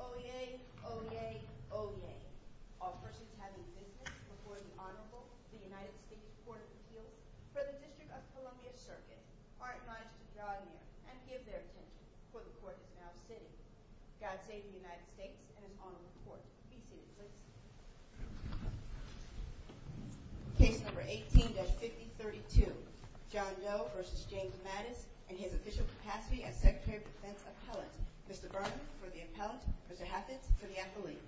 O.E.A. O.E.A. O.E.A. All churches have an instance before the Honorable, the United States Court of Appeals, for the District of Columbia Circus, to partner with John Muir and give their case before the courts of New York City. God save the United States and an Honorable Court. Case number 18-5032. John Doe v. James Mattis and his official capacity as Secretary of Defense appellate. Mr. Berman for the appellate. Mr. Hafford for the appellate.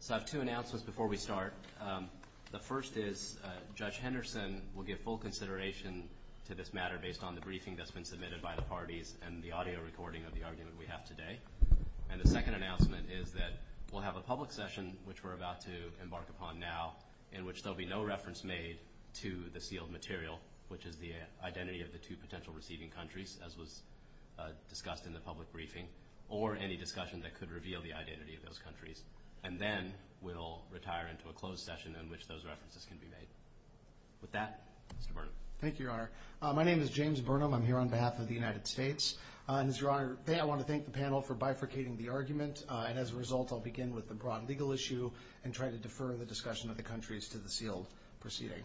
So I have two announcements before we start. The first is Judge Henderson will give full consideration to this matter based on the briefing that's been submitted by the parties and the audio recording of the argument we have today. And the second announcement is that we'll have a public session, which we're about to embark upon now, in which there'll be no reference made to the sealed material, which is the identity of the two potential receiving countries, as was discussed in the public briefing, or any discussion that could reveal the identity of those countries. And then we'll retire into a closed session in which those references can be made. With that, Mr. Burnham. Thank you, Your Honor. My name is James Burnham. I'm here on behalf of the United States. And, Your Honor, I want to thank the panel for bifurcating the argument, and as a result, I'll begin with the broad legal issue and try to defer the discussion of the countries to the sealed proceeding.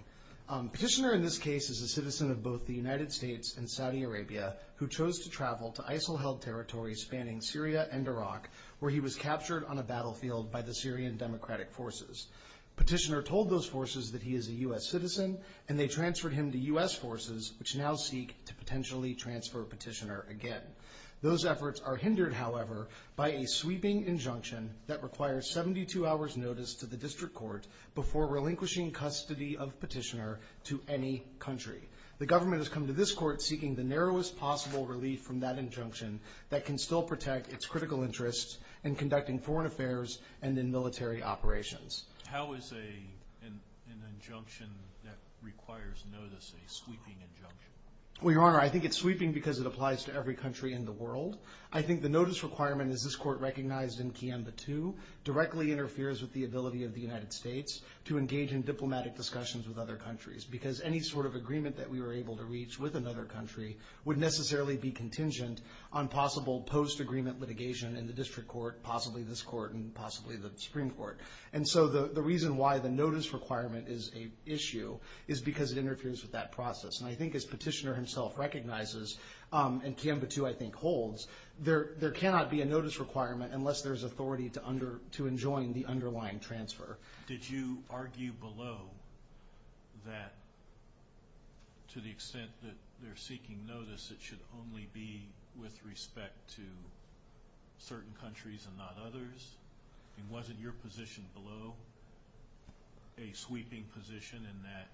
Petitioner, in this case, is a citizen of both the United States and Saudi Arabia who chose to travel to ISIL-held territories spanning Syria and Iraq, where he was captured on a battlefield by the Syrian Democratic Forces. Petitioner told those forces that he is a U.S. citizen, and they transferred him to U.S. forces, which now seek to potentially transfer Petitioner again. Those efforts are hindered, however, by a sweeping injunction that requires 72 hours' notice to the district court before relinquishing custody of Petitioner to any country. The government has come to this court seeking the narrowest possible relief from that injunction that can still protect its critical interests in conducting foreign affairs and in military operations. How is an injunction that requires notice a sweeping injunction? The reason why the notice requirement is an issue is because it interferes with that process. And I think, as Petitioner himself recognizes, and Canva II, I think, holds, there cannot be a notice requirement unless there's authority to enjoin the underlying transfer. Did you argue below that, to the extent that they're seeking notice, it should only be with respect to certain countries and not others? And wasn't your position below a sweeping position in that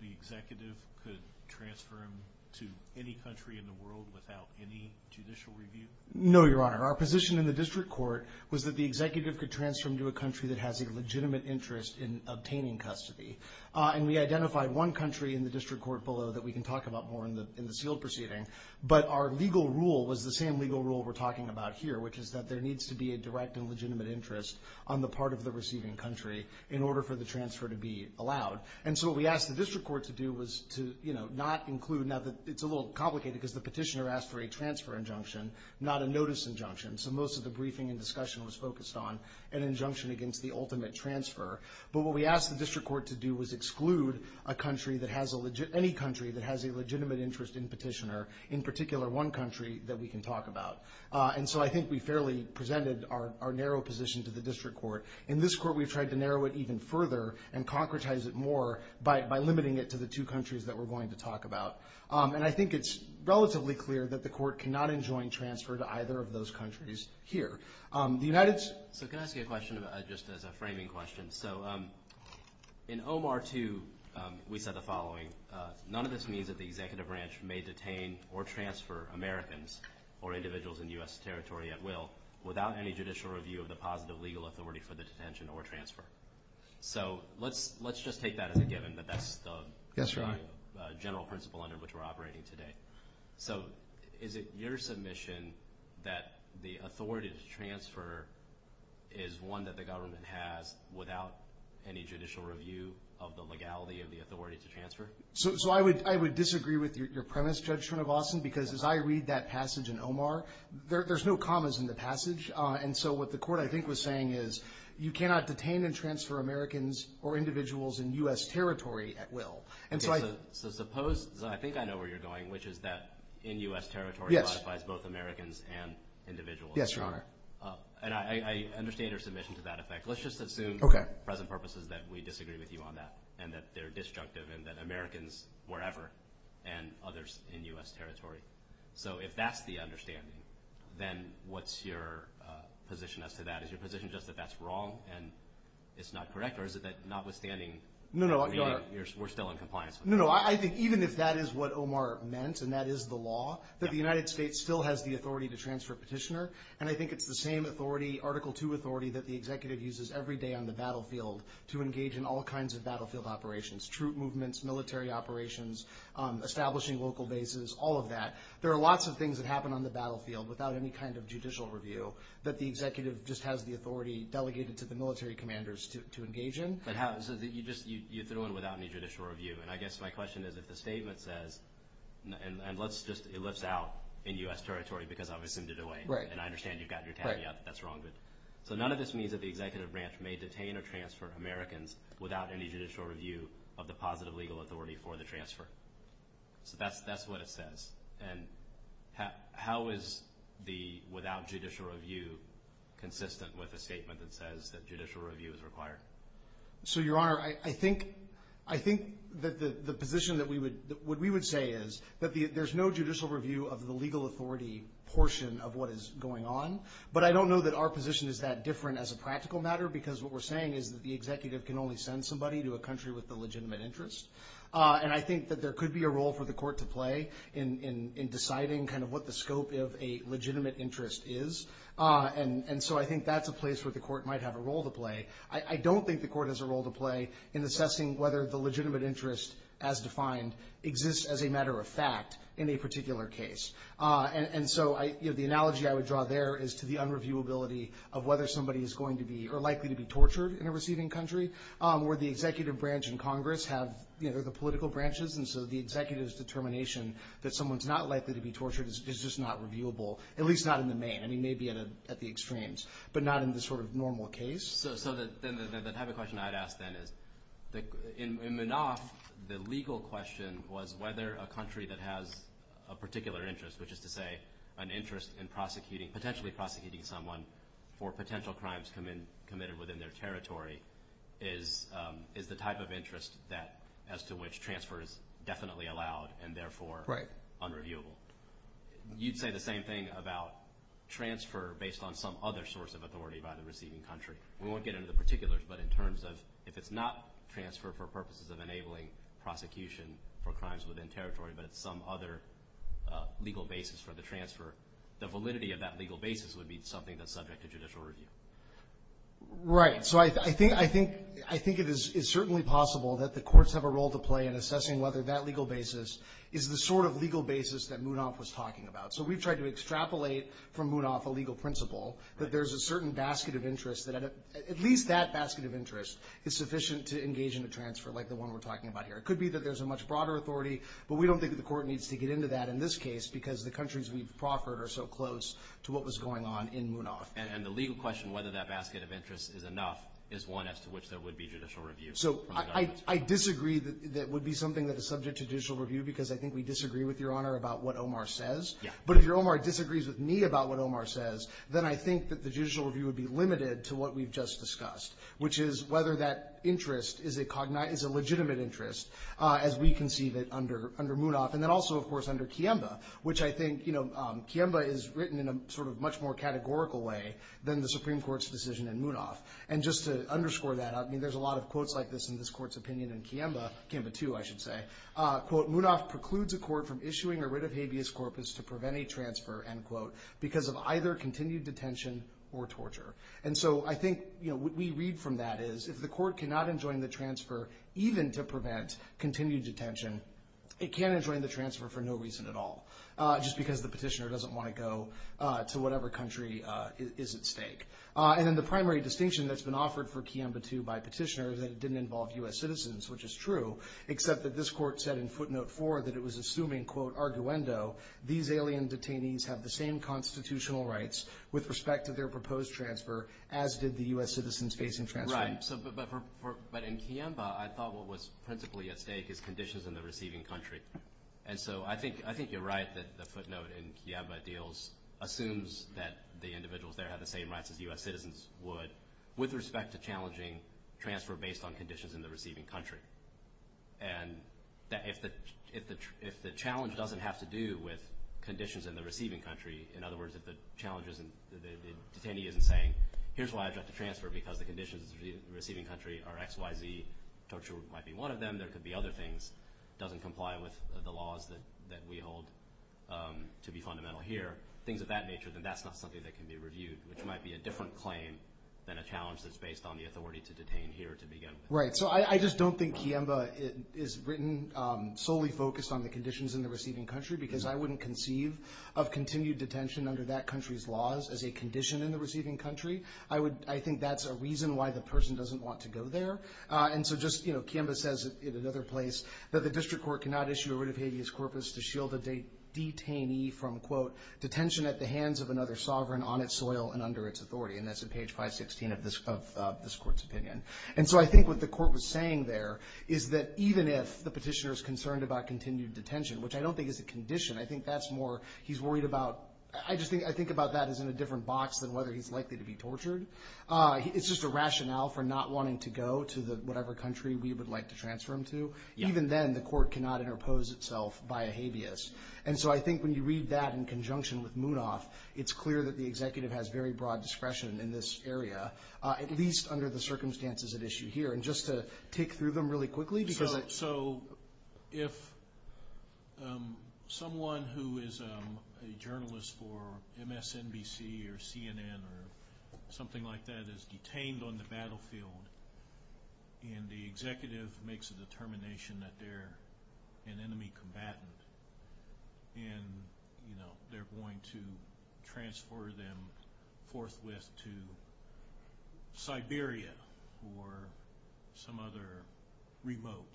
the executive could transfer him to any country in the world without any judicial review? No, Your Honor. Our position in the district court was that the executive could transfer him to a country that has a legitimate interest in obtaining custody. And we identified one country in the district court below that we can talk about more in the sealed proceeding, but our legal rule was the same legal rule we're talking about here, which is that there needs to be a direct and legitimate interest on the part of the receiving country in order for the transfer to be allowed. And so what we asked the district court to do was to not include – now, it's a little complicated because the petitioner asked for a transfer injunction, not a notice injunction. So most of the briefing and discussion was focused on an injunction against the ultimate transfer. But what we asked the district court to do was exclude a country that has a – any country that has a legitimate interest in Petitioner, in particular one country that we can talk about. And so I think we fairly presented our narrow position to the district court. In this court, we've tried to narrow it even further and concretize it more by limiting it to the two countries that we're going to talk about. And I think it's relatively clear that the court cannot enjoin transfer to either of those countries here. The United – is one that the government has without any judicial review of the legality of the authority to transfer? So I would disagree with your premise, Judge Shrinivasan, because as I read that passage in Omar, there's no commas in the passage. And so what the court, I think, was saying is you cannot detain and transfer Americans or individuals in U.S. territory at will. So suppose – I think I know where you're going, which is that in U.S. territory ratifies both Americans and individuals. And I understand your submission to that effect. Let's just assume for present purposes that we disagree with you on that and that they're disjunctive and that Americans wherever and others in U.S. territory. So if that's the understanding, then what's your position as to that? Is your position just that that's wrong and it's not correct, or is it that notwithstanding – No, no. I mean, we're still in compliance. No, no. I think even if that is what Omar meant and that is the law, that the United States still has the authority to transfer a petitioner. And I think it's the same authority, Article II authority, that the executive uses every day on the battlefield to engage in all kinds of battlefield operations – troop movements, military operations, establishing local bases, all of that. There are lots of things that happen on the battlefield without any kind of judicial review that the executive just has the authority delegated to the military commanders to engage in. It happens. You just – you throw in without any judicial review. And I guess my question is if the statement says – and let's just – it lives out in U.S. territory because obviously I'm in a different way. Right. And I understand you've got your caveat that that's wrong. Right. But none of this means that the executive branch may detain or transfer Americans without any judicial review of the positive legal authority for the transfer. So that's what it says. And how is the without judicial review consistent with a statement that says that judicial review is required? So, Your Honor, I think that the position that we would – what we would say is that there's no judicial review of the legal authority portion of what is going on. But I don't know that our position is that different as a practical matter because what we're saying is that the executive can only send somebody to a country with a legitimate interest. And I think that there could be a role for the court to play in deciding kind of what the scope of a legitimate interest is. And so I think that's a place where the court might have a role to play. I don't think the court has a role to play in assessing whether the legitimate interest as defined exists as a matter of fact in a particular case. And so the analogy I would draw there is to the unreviewability of whether somebody is going to be – or likely to be tortured in a receiving country, where the executive branch and Congress have – they're the political branches. And so the executive's determination that someone's not likely to be tortured is just not reviewable, at least not in the main. I mean, maybe at the extremes, but not in the sort of normal case. So the type of question I'd ask then is in Minov, the legal question was whether a country that has a particular interest, which is to say an interest in prosecuting – potentially prosecuting someone for potential crimes committed within their territory, is the type of interest that – as to which transfer is definitely allowed and therefore unreviewable. You'd say the same thing about transfer based on some other source of authority by the receiving country. I won't get into particulars, but in terms of if it's not transfer for purposes of enabling prosecution for crimes within territory, but it's some other legal basis for the transfer, the validity of that legal basis would be something that's subject to judicial review. Right. So I think it is certainly possible that the courts have a role to play in assessing whether that legal basis is the sort of legal basis that Minov was talking about. So we've tried to extrapolate from Minov a legal principle that there's a certain basket of interest that – at least that basket of interest is sufficient to engage in a transfer like the one we're talking about here. It could be that there's a much broader authority, but we don't think that the court needs to get into that in this case because the countries we've proffered are so close to what was going on in Minov. And the legal question, whether that basket of interest is enough, is one as to which there would be judicial review. So I disagree that it would be something that is subject to judicial review because I think we disagree with Your Honor about what Omar says. But if Omar disagrees with me about what Omar says, then I think that the judicial review would be limited to what we've just discussed, which is whether that interest is a legitimate interest as we conceive it under Minov. And then also, of course, under Kiemba, which I think Kiemba is written in a sort of much more categorical way than the Supreme Court's decision in Minov. And just to underscore that, I mean, there's a lot of quotes like this in this court's opinion in Kiemba, Kiemba 2, I should say. Quote, Minov precludes a court from issuing a writ of habeas corpus to prevent a transfer, end quote, because of either continued detention or torture. And so I think what we read from that is if the court cannot enjoin the transfer even to prevent continued detention, it can't enjoin the transfer for no reason at all just because the petitioner doesn't want to go to whatever country is at stake. And then the primary distinction that's been offered for Kiemba 2 by petitioners is that it didn't involve U.S. citizens, which is true, except that this court said in footnote 4 that it was assuming, quote, arguendo, these alien detainees have the same constitutional rights with respect to their proposed transfer, as did the U.S. citizens facing transfer. Right. But in Kiemba, I thought what was principally at stake is conditions in the receiving country. And so I think you're right that the footnote in Kiemba deals assumes that the individuals there have the same rights as U.S. citizens would with respect to challenging transfer based on conditions in the receiving country. And if the challenge doesn't have to do with conditions in the receiving country, in other words, if the challenge isn't – the detainee isn't saying here's why I've got to transfer because the conditions in the receiving country are X, Y, Z, which I'm sure might be one of them, there could be other things, doesn't comply with the laws that we hold to be fundamental here, things of that nature, then that's not something that can be reviewed, which might be a different claim than a challenge that's based on the authority to detain here to begin. Right. So I just don't think Kiemba is written solely focused on the conditions in the receiving country because I wouldn't conceive of continued detention under that country's laws as a condition in the receiving country. I think that's a reason why the person doesn't want to go there. And so just, you know, Kiemba says in another place that the district court cannot issue a writ of habeas corpus to shield a detainee from, quote, detention at the hands of another sovereign on its soil and under its authority. And that's at page 516 of this court's opinion. And so I think what the court was saying there is that even if the petitioner is concerned about continued detention, which I don't think is a condition, I think that's more – he's worried about – I think about that as in a different box than whether he's likely to be tortured. It's just a rationale for not wanting to go to whatever country we would like to transfer him to. Even then, the court cannot interpose itself by a habeas. And so I think when you read that in conjunction with Munaf, it's clear that the executive has very broad discretion in this area, at least under the circumstances at issue here. And just to take through them really quickly, because – So if someone who is a journalist for MSNBC or CNN or something like that is detained on the battlefield and the executive makes a determination that they're an enemy combatant and they're going to transfer them forthwith to Siberia or some other remote,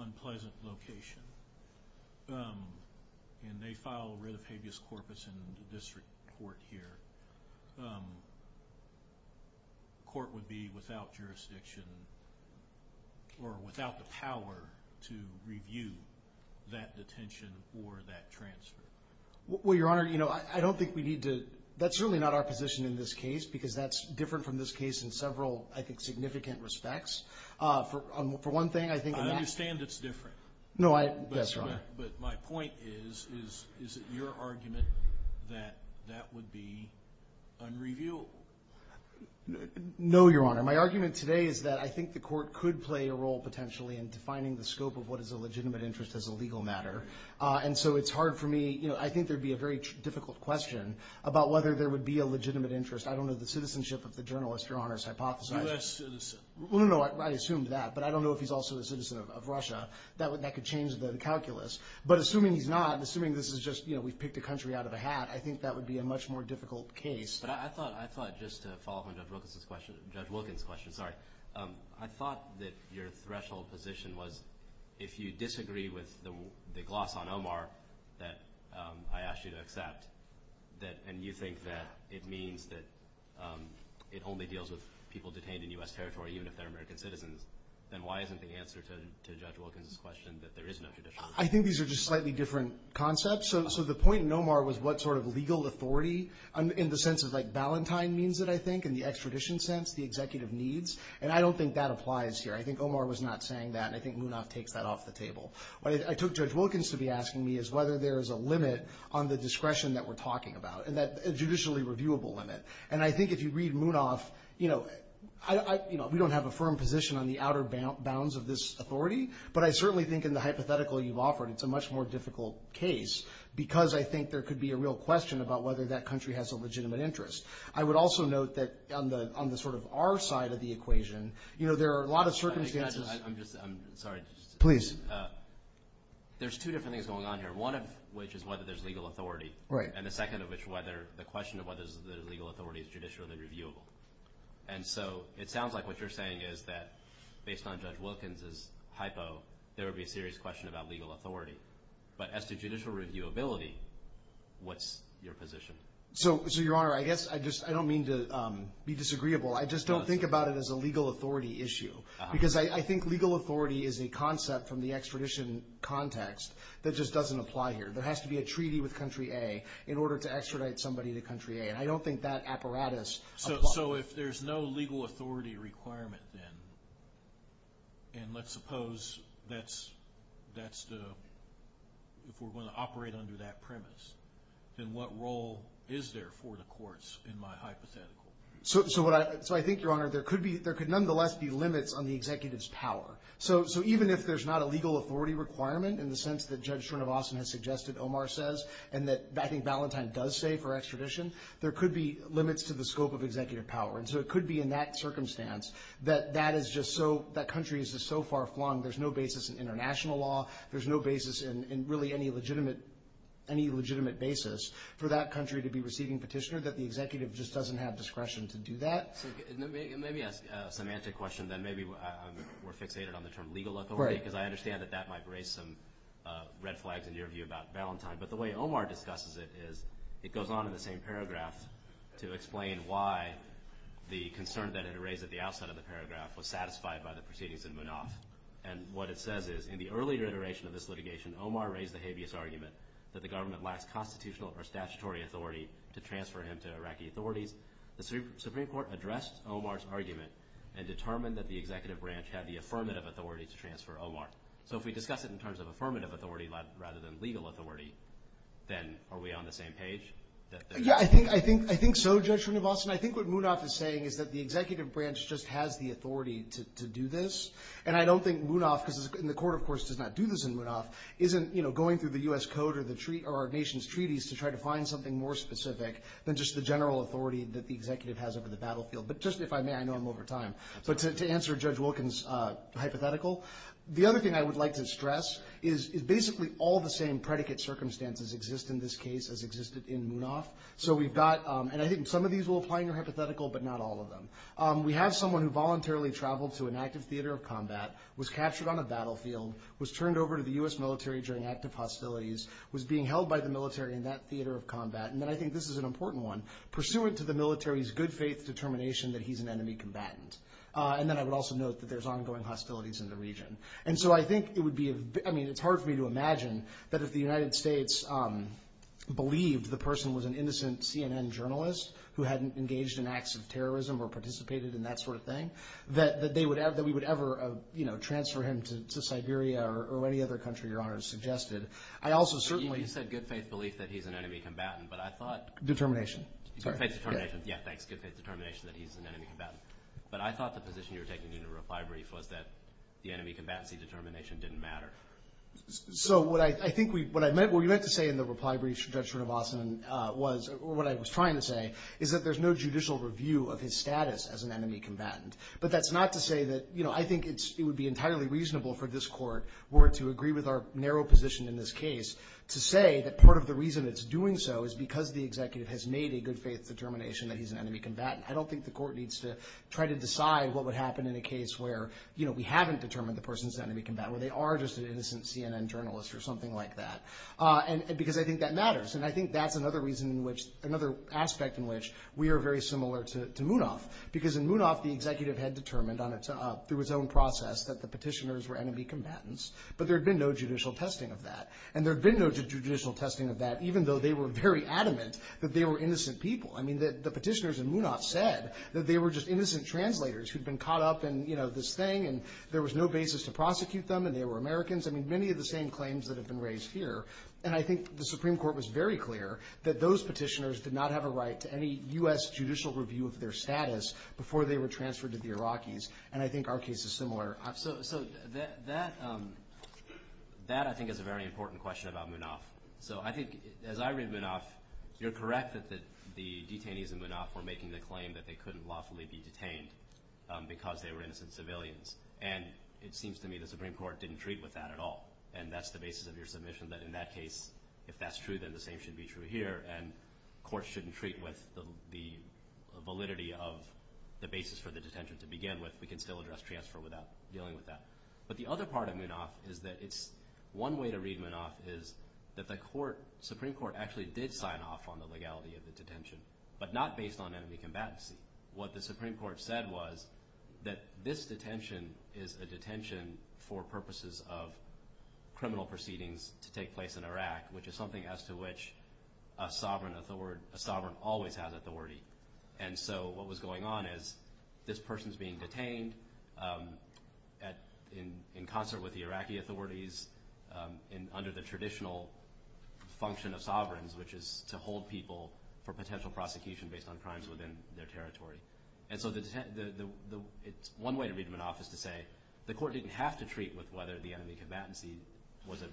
unpleasant location, and they file a writ of habeas corpus in the district court here, the court would be without jurisdiction or without the power to review that detention or that transfer. Well, Your Honor, I don't think we need to – that's really not our position in this case, because that's different from this case in several, I think, significant respects. For one thing, I think – I understand it's different. No, I – that's fine. But my point is, is it your argument that that would be unreviewable? No, Your Honor. My argument today is that I think the court could play a role potentially in defining the scope of what is a legitimate interest as a legal matter. And so it's hard for me – I think there would be a very difficult question about whether there would be a legitimate interest – I don't know if the citizenship of the journalist, Your Honor, is hypothesized. U.S. citizen. Well, no, I assume that, but I don't know if he's also a citizen of Russia. That could change the calculus. But assuming he's not, and assuming this is just, you know, we've picked a country out of a hat, I think that would be a much more difficult case. But I thought – I thought, just to follow up on Judge Wilkins' question – Judge Wilkins' question, sorry – I thought that your threshold position was, if you disagree with the gloss on Omar that I asked you to accept, and you think that it means that it only deals with people detained in U.S. territory, even if they're American citizens, then why isn't the answer to Judge Wilkins' question that there isn't a tradition? I think these are just slightly different concepts. So the point in Omar was what sort of legal authority, in the sense of, like, Valentine means it, I think, in the extradition sense, the executive needs. And I don't think that applies here. I think Omar was not saying that, and I think Munoz takes that off the table. What I took Judge Wilkins to be asking me is whether there is a limit on the discretion that we're talking about, a judicially reviewable limit. And I think if you read Munoz, you know, we don't have a firm position on the outer bounds of this authority, but I certainly think in the hypothetical you've offered, it's a much more difficult case because I think there could be a real question about whether that country has a legitimate interest. I would also note that on the sort of our side of the equation, you know, there are a lot of circumstances – I'm just – I'm sorry. Please. There's two different things going on here, one of which is whether there's legal authority, and the second of which whether the question of whether there's legal authority is judicially reviewable. And so it sounds like what you're saying is that based on Judge Wilkins' hypo, there would be a serious question about legal authority. But as to judicial reviewability, what's your position? So, Your Honor, I guess I just – I don't mean to be disagreeable. I just don't think about it as a legal authority issue because I think legal authority is a concept from the extradition context that just doesn't apply here. There has to be a treaty with Country A in order to extradite somebody to Country A, and I don't think that apparatus applies. So if there's no legal authority requirement then, and let's suppose that's the – if we're going to operate under that premise, then what role is there for the courts in my hypothetical? So I think, Your Honor, there could be – there could nonetheless be limits on the executive's power. So even if there's not a legal authority requirement, in the sense that Judge Srinivasan has suggested Omar says and that I think Ballantyne does say for extradition, there could be limits to the scope of executive power. And so it could be in that circumstance that that is just so – that country is just so far flung, there's no basis in international law, there's no basis in really any legitimate basis for that country to be receiving petitioners, that the executive just doesn't have discretion to do that. And let me ask a semantic question then. Maybe we're fixated on the term legal authority. Right. Because I understand that that might raise some red flags in your view about Ballantyne. But the way Omar discusses it is it goes on in the same paragraph to explain why the concern that it raised at the outset of the paragraph was satisfied by the proceedings in Munaf. And what it says is, in the earlier iteration of this litigation, Omar raised the habeas argument that the government lacks constitutional or statutory authority to transfer him to Iraqi authorities. The Supreme Court addressed Omar's argument and determined that the executive branch had the affirmative authority to transfer Omar. So if we discuss it in terms of affirmative authority rather than legal authority, then are we on the same page? Yeah, I think so, Judge from New Boston. I think what Munaf is saying is that the executive branch just has the authority to do this. And I don't think Munaf – and the court, of course, does not do this in Munaf – isn't going through the U.S. Code or our nation's treaties to try to find something more specific than just the general authority that the executive has over the battlefield. But just if I may – I know I'm over time – but to answer Judge Wilkins' hypothetical, the other thing I would like to stress is basically all the same predicate circumstances exist in this case as existed in Munaf. So we've got – and I think some of these will apply in your hypothetical, but not all of them. We have someone who voluntarily traveled to an active theater of combat, was captured on a battlefield, was turned over to the U.S. military during active hostilities, was being held by the military in that theater of combat. And then I think this is an important one. Pursuant to the military's good faith determination that he's an enemy combatant. And then I would also note that there's ongoing hostilities in the region. And so I think it would be – I mean, it's hard for me to imagine that if the United States believed the person was an innocent CNN journalist who hadn't engaged in acts of terrorism or participated in that sort of thing, that they would – that we would ever transfer him to Siberia or any other country Your Honor has suggested. I also certainly – You said good faith belief that he's an enemy combatant, but I thought – Determination. Sorry. Good faith determination. Yeah, good faith determination that he's an enemy combatant. But I thought the position you were taking in the reply brief was that the enemy combatant's determination didn't matter. So what I think we – what I meant – what we meant to say in the reply brief, Judge Robotson, was – or what I was trying to say is that there's no judicial review of his status as an enemy combatant. But that's not to say that – you know, I think it would be entirely reasonable for this court were it to agree with our narrow position in this case to say that part of the reason it's doing so is because the executive has made a good faith determination that he's an enemy combatant. I don't think the court needs to try to decide what would happen in a case where, you know, we haven't determined the person's an enemy combatant, where they are just an innocent CNN journalist or something like that, because I think that matters. And I think that's another reason in which – another aspect in which we are very similar to Munaf, because in Munaf the executive had determined on its – through its own process that the petitioners were enemy combatants, but there had been no judicial testing of that. And there had been no judicial testing of that, even though they were very adamant that they were innocent people. I mean, the petitioners in Munaf said that they were just innocent translators who'd been caught up in, you know, this thing, and there was no basis to prosecute them, and they were Americans. I mean, many of the same claims that have been raised here. And I think the Supreme Court was very clear that those petitioners did not have a right to any U.S. judicial review of their status before they were transferred to the Iraqis. And I think our case is similar. So that, I think, is a very important question about Munaf. So I think, as I read Munaf, you're correct that the detainees in Munaf were making the claim that they couldn't lawfully be detained because they were innocent civilians. And it seems to me the Supreme Court didn't treat with that at all, and that's the basis of your submission, that in that case, if that's true, then the same should be true here. And courts shouldn't treat with the validity of the basis for the detention to begin with. We can still address transfer without dealing with that. But the other part of Munaf is that it's one way to read Munaf is that the Supreme Court actually did sign off on the legality of the detention, but not based on enemy combatants. What the Supreme Court said was that this detention is a detention for purposes of criminal proceedings to take place in Iraq, which is something as to which a sovereign always has authority. And so what was going on is this person's being detained in concert with the Iraqi authorities under the traditional function of sovereigns, which is to hold people for potential prosecution based on crimes within their territory. And so it's one way to read Munaf is to say the court didn't have to treat with whether the enemy combatants was a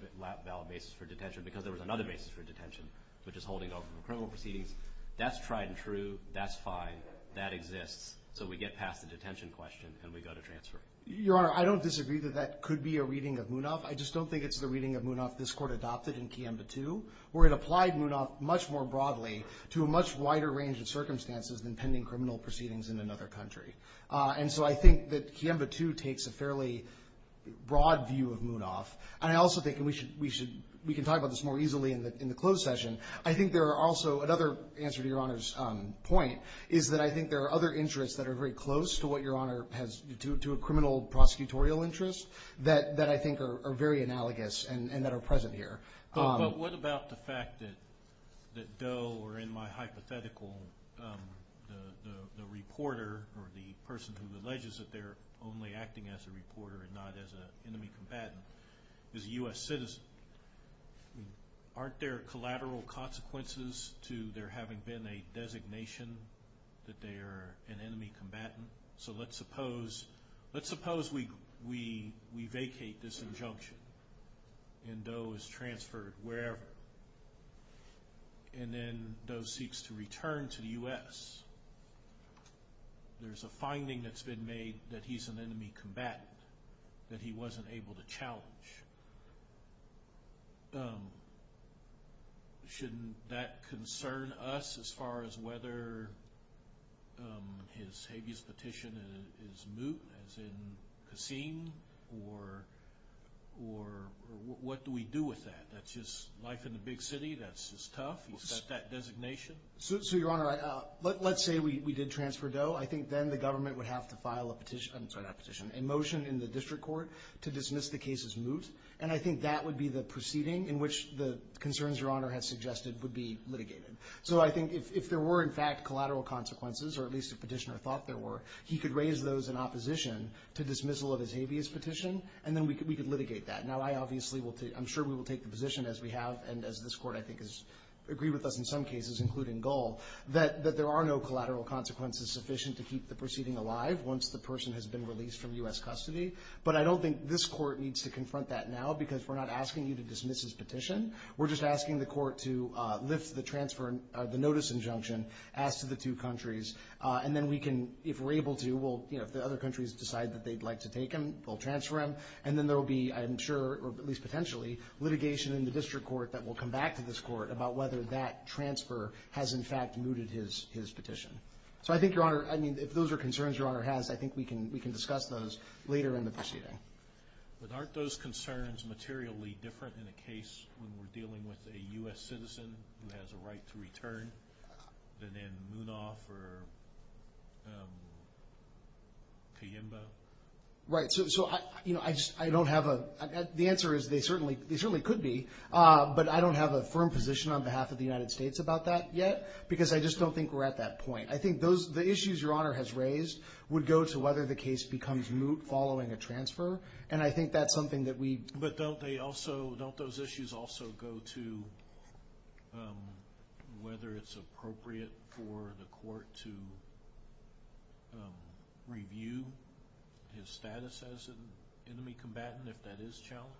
valid basis for detention because there was another basis for detention, which is holding off from criminal proceedings. That's tried and true. That's fine. That exists. So we get past the detention question and we go to transfer. Your Honor, I don't disagree that that could be a reading of Munaf. I just don't think it's the reading of Munaf this Court adopted in Kiemba II, where it applied Munaf much more broadly to a much wider range of circumstances than pending criminal proceedings in another country. And so I think that Kiemba II takes a fairly broad view of Munaf. And I also think we should – we can talk about this more easily in the closed session. I think there are also – another answer to Your Honor's point is that I think there are other interests that are very close to what Your Honor has – to a criminal prosecutorial interest that I think are very analogous and that are present here. But what about the fact that Doe or in my hypothetical the reporter or the person who alleges that they're only acting as a reporter and not as an enemy combatant is a U.S. citizen? Aren't there collateral consequences to there having been a designation that they are an enemy combatant? So let's suppose we vacate this injunction and Doe is transferred wherever. And then Doe seeks to return to the U.S. There's a finding that's been made that he's an enemy combatant that he wasn't able to challenge. Shouldn't that concern us as far as whether his habeas petition is moot, as in a scene? Or what do we do with that? That's just life in the big city. That's just tough. He's got that designation. So, Your Honor, let's say we did transfer Doe. I think then the government would have to file a petition – I'm sorry, not petition – a motion in the district court to dismiss the case as moot. And I think that would be the proceeding in which the concerns Your Honor has suggested would be litigated. So I think if there were, in fact, collateral consequences, or at least a petitioner thought there were, he could raise those in opposition to dismissal of his habeas petition, and then we could litigate that. Now, I obviously will – I'm sure we will take the position as we have, and as this court, I think, has agreed with us in some cases, including Doe, that there are no collateral consequences sufficient to keep the proceeding alive once the person has been released from U.S. custody. But I don't think this court needs to confront that now because we're not asking you to dismiss his petition. We're just asking the court to lift the transfer – the notice injunction as to the two countries. And then we can, if we're able to, we'll – if the other countries decide that they'd like to take him, they'll transfer him, and then there will be, I'm sure, or at least potentially, litigation in the district court that will come back to this court about whether that transfer has, in fact, mooted his petition. So I think, Your Honor – I mean, if those are concerns Your Honor has, I think we can discuss those later in the proceeding. But aren't those concerns materially different in a case where we're dealing with a U.S. citizen who has a right to return than in Munoz or Kiyimba? Right. So I don't have a – the answer is they certainly could be, but I don't have a firm position on behalf of the United States about that yet because I just don't think we're at that point. I think the issues Your Honor has raised would go to whether the case becomes moot following a transfer, and I think that's something that we – But don't they also – don't those issues also go to whether it's appropriate for the court to review his status as an enemy combatant if that is challenged?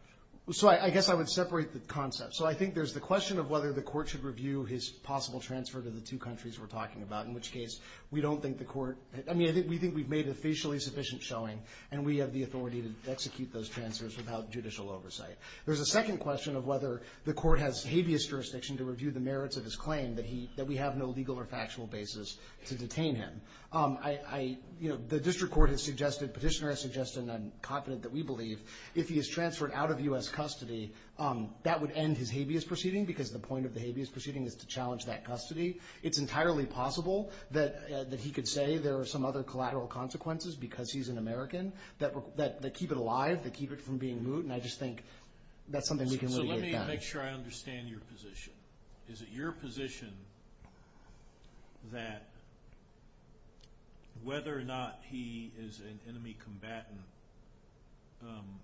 So I guess I would separate the concepts. So I think there's the question of whether the court should review his possible transfer to the two countries we're talking about, in which case we don't think the court – I mean, we think we've made a facially sufficient showing, and we have the authority to execute those transfers without judicial oversight. There's a second question of whether the court has habeas jurisdiction to review the merits of his claim, that we have no legal or factual basis to detain him. I – the district court has suggested, petitioner has suggested, and I'm confident that we believe, if he is transferred out of U.S. custody, that would end his habeas proceeding because the point of the habeas proceeding is to challenge that custody. It's entirely possible that he could say there are some other collateral consequences because he's an American that keep it alive, that keep it from being moot, and I just think that's something we can really assess. So let me make sure I understand your position. Is it your position that whether or not he is an enemy combatant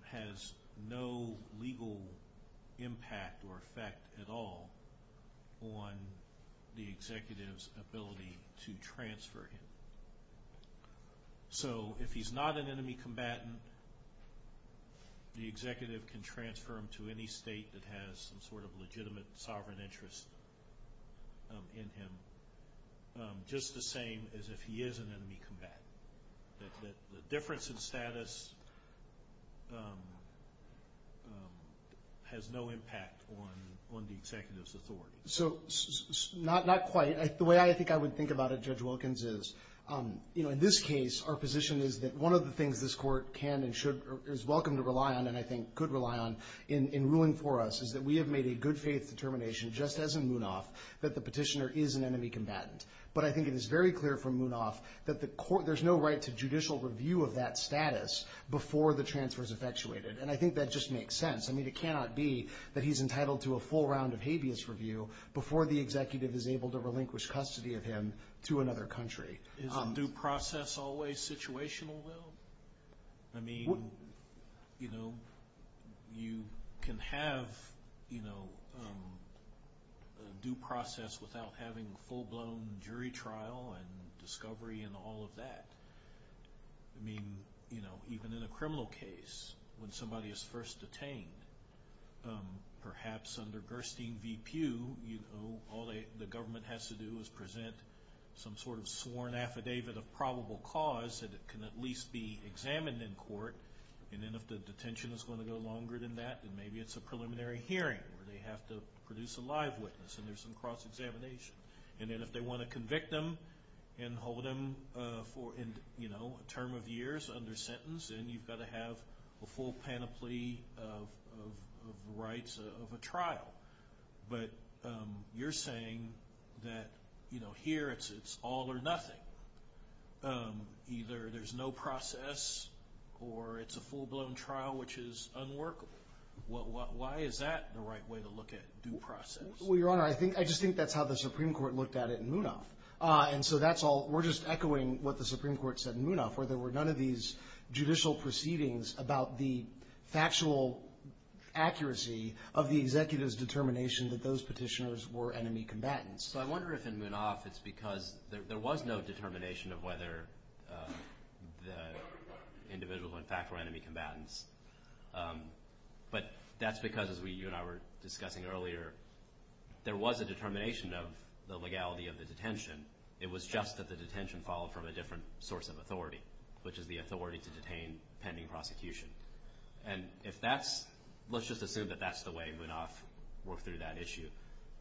has no legal impact or effect at all on the executive's ability to transfer him? So if he's not an enemy combatant, the executive can transfer him to any state that has some sort of legitimate sovereign interest in him, just the same as if he is an enemy combatant. The difference in status has no impact on the executive's authority. So not quite. The way I think I would think about it, Judge Wilkins, is, you know, in this case, our position is that one of the things this court can and should – is welcome to rely on and I think could rely on in ruling for us is that we have made a good-faith determination just as in Munaf that the petitioner is an enemy combatant, but I think it is very clear from Munaf that the court – there's no right to judicial review of that status before the transfer is effectuated, and I think that just makes sense. I mean, it cannot be that he's entitled to a full round of habeas review before the executive is able to relinquish custody of him to another country. Is due process always situational, though? I mean, you know, you can have, you know, due process without having a full-blown jury trial and discovery and all of that. I mean, you know, even in a criminal case, when somebody is first detained, perhaps under Gerstein v. Pew, you know, all the government has to do is present some sort of sworn affidavit of probable cause that can at least be examined in court, and then if the detention is going to go longer than that, then maybe it's a preliminary hearing where they have to produce a live witness and there's some cross-examination. And then if they want to convict him and hold him for, you know, a term of years under sentence, then you've got to have a full panoply of rights of a trial. But you're saying that, you know, here it's all or nothing. Either there's no process or it's a full-blown trial which is unworkable. Why is that the right way to look at due process? Well, Your Honor, I just think that's how the Supreme Court looked at it in Munaf. And so that's all. We're just echoing what the Supreme Court said in Munaf, where there were none of these judicial proceedings about the factual accuracy of the executive's determination that those petitioners were enemy combatants. So I wonder if in Munaf it's because there was no determination of whether the individuals, in fact, were enemy combatants. But that's because, as you and I were discussing earlier, there was a determination of the legality of the detention. It was just that the detention followed from a different source of authority, which is the authority to detain pending prosecution. And if that's – let's just assume that that's the way Munaf worked through that issue.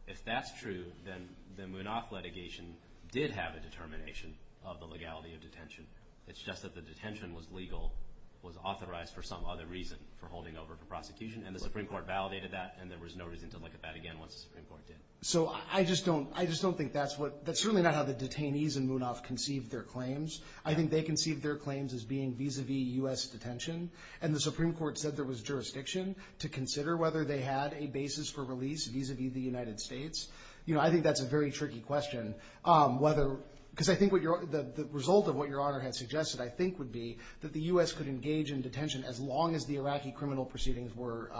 If that's true, then the Munaf litigation did have a determination of the legality of detention. It's just that the detention was legal, was authorized for some other reason for holding over for prosecution, and the Supreme Court validated that, and there was no reason to look at that again once the Supreme Court did. So I just don't think that's what – that's really not how the detainees in Munaf conceived their claims. I think they conceived their claims as being vis-a-vis U.S. detention, and the Supreme Court said there was jurisdiction to consider whether they had a basis for release vis-a-vis the United States. I think that's a very tricky question, whether – because I think what your – the result of what your honor had suggested, I think, would be that the U.S. could engage in detention as long as the Iraqi criminal proceedings were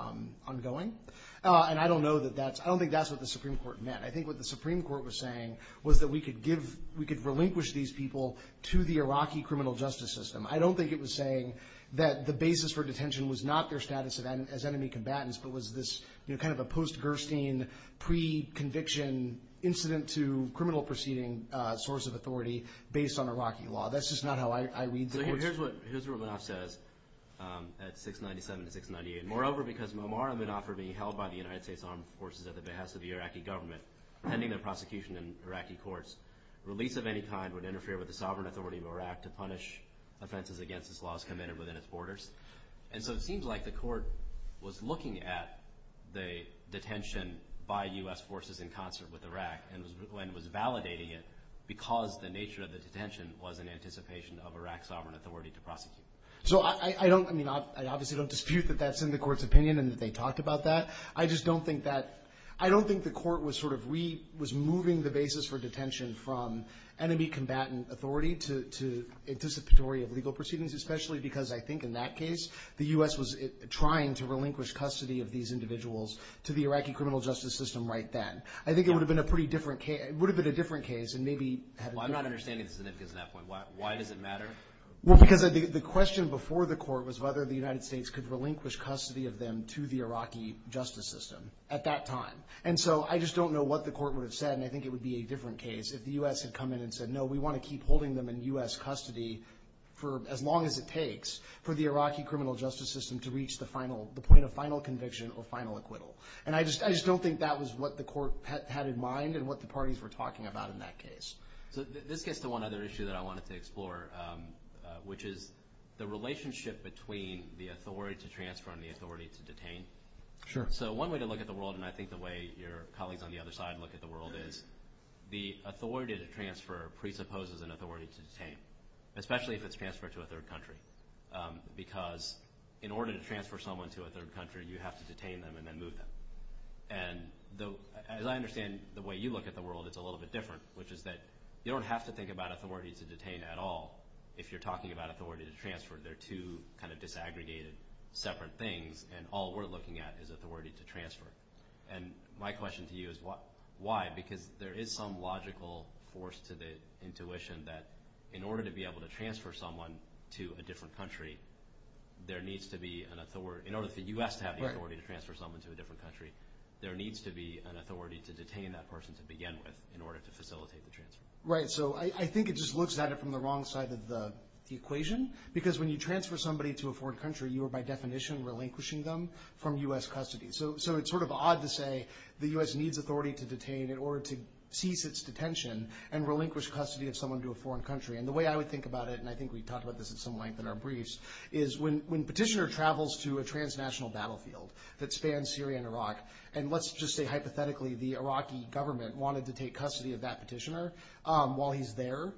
ongoing. And I don't know that that's – I don't think that's what the Supreme Court meant. I think what the Supreme Court was saying was that we could give – we could relinquish these people to the Iraqi criminal justice system. I don't think it was saying that the basis for detention was not their status as enemy combatants, but was this kind of a post-Gerstein pre-conviction incident-to-criminal-proceeding source of authority based on Iraqi law. That's just not how I read the case. So here's what – here's what it now says at 697 to 698. Moreover, because Muammar bin Abd al-Baghdadi, held by the United States Armed Forces at the behest of the Iraqi government, pending their prosecution in Iraqi courts, release of any kind would interfere with the sovereign authority of Iraq to punish offenses against his laws committed within its borders. And so it seems like the court was looking at the detention by U.S. forces in concert with Iraq and was validating it because the nature of the detention was in anticipation of Iraq's sovereign authority to prosecute. So I don't – I mean, I obviously don't dispute that that's in the court's opinion and they talked about that. I just don't think that – I don't think the court was sort of – was moving the basis for detention from enemy combatant authority to anticipatory of legal proceedings, especially because I think in that case, the U.S. was trying to relinquish custody of these individuals to the Iraqi criminal justice system right then. I think it would have been a pretty different – it would have been a different case and maybe – Well, I'm not understanding the significance of that point. Why does it matter? Well, because the question before the court was whether the United States could relinquish custody of them to the Iraqi justice system at that time. And so I just don't know what the court would have said, and I think it would be a different case if the U.S. had come in and said, no, we want to keep holding them in U.S. custody for as long as it takes for the Iraqi criminal justice system to reach the final – the point of final conviction or final acquittal. And I just don't think that was what the court had in mind and what the parties were talking about in that case. This gets to one other issue that I wanted to explore, which is the relationship between the authority to transfer and the authority to detain. Sure. So one way to look at the world, and I think the way your colleagues on the other side look at the world, is the authority to transfer presupposes an authority to detain, especially if it's transferred to a third country, because in order to transfer someone to a third country, you have to detain them and then move them. And as I understand the way you look at the world, it's a little bit different, which is that you don't have to think about authority to detain at all if you're talking about authority to transfer. They're two kind of disaggregated, separate things, and all we're looking at is authority to transfer. And my question to you is why? Because there is some logical force to the intuition that in order to be able to transfer someone to a different country, there needs to be an authority. In order for the U.S. to have the authority to transfer someone to a different country, there needs to be an authority to detain that person to begin with in order to facilitate the transfer. Right. So I think it just looks at it from the wrong side of the equation, because when you transfer somebody to a foreign country, you are by definition relinquishing them from U.S. custody. So it's sort of odd to say the U.S. needs authority to detain in order to cease its detention and relinquish custody of someone to a foreign country. And the way I would think about it, and I think we've talked about this at some length in our briefs, is when petitioner travels to a transnational battlefield that spans Syria and Iraq, and let's just say hypothetically the Iraqi government wanted to take custody of that petitioner while he's there,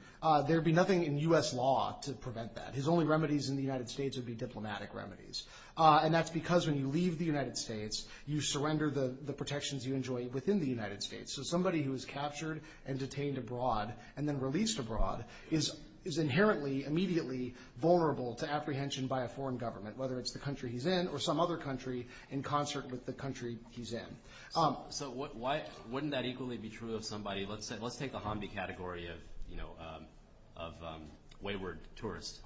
there would be nothing in U.S. law to prevent that. His only remedies in the United States would be diplomatic remedies. And that's because when you leave the United States, you surrender the protections you enjoy within the United States. So somebody who is captured and detained abroad and then released abroad is inherently, immediately vulnerable to apprehension by a foreign government, whether it's the country he's in or some other country in concert with the country he's in. So wouldn't that equally be true of somebody – let's take the Hamdi category of wayward tourists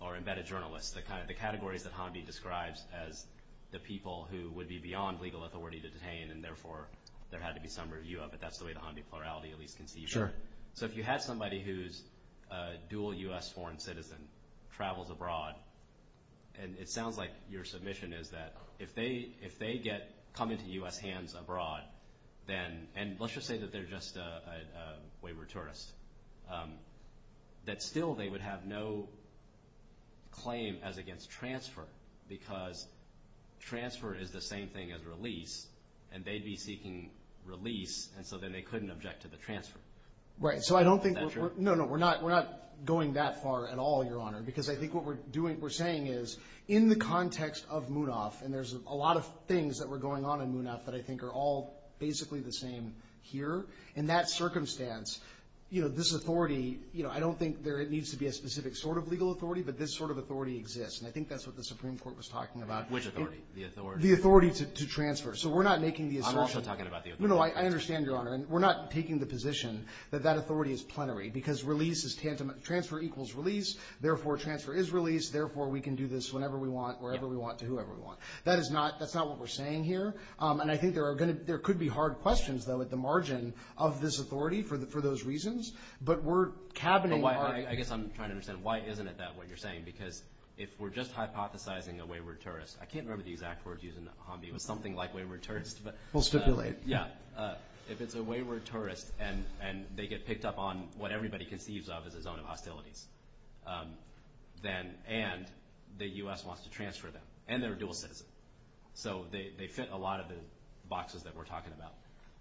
or embedded journalists. The categories that Hamdi describes as the people who would be beyond legal authority to detain, and therefore there had to be some review of it. That's the way the Hamdi plurality at least conceived it. Sure. So if you had somebody who's a dual U.S. foreign citizen, travels abroad, and it sounds like your submission is that if they get – come into U.S. hands abroad, then – and let's just say that they're just a wayward tourist – that still they would have no claim as against transfer because transfer is the same thing as release, and they'd be seeking release, and so then they couldn't object to the transfer. Right. So I don't think – no, no, we're not going that far at all, Your Honor, because I think what we're doing – we're saying is in the context of MUNAF, and there's a lot of things that were going on in MUNAF that I think are all basically the same here. In that circumstance, this authority – I don't think there needs to be a specific sort of legal authority, but this sort of authority exists, and I think that's what the Supreme Court was talking about. Which authority? The authority to transfer. So we're not making the assertion – I'm also talking about the authority. No, no, I understand, Your Honor. We're not taking the position that that authority is plenary because release is tantamount – transfer equals release, therefore transfer is release, therefore we can do this whenever we want, wherever we want, to whoever we want. That is not – that's not what we're saying here, and I think there are going to – there could be hard questions, though, at the margin of this authority for those reasons, but we're cabining our – I guess I'm trying to understand why isn't it that what you're saying, because if we're just hypothesizing a wayward tourist – I can't remember the exact words used in Hambi, but something like wayward tourist, but – We'll stipulate. Yeah. If it's a wayward tourist and they get picked up on what everybody conceives of as a zone of hostility, then – and the U.S. wants to transfer them, and they're dual citizens. So they fit a lot of the boxes that we're talking about.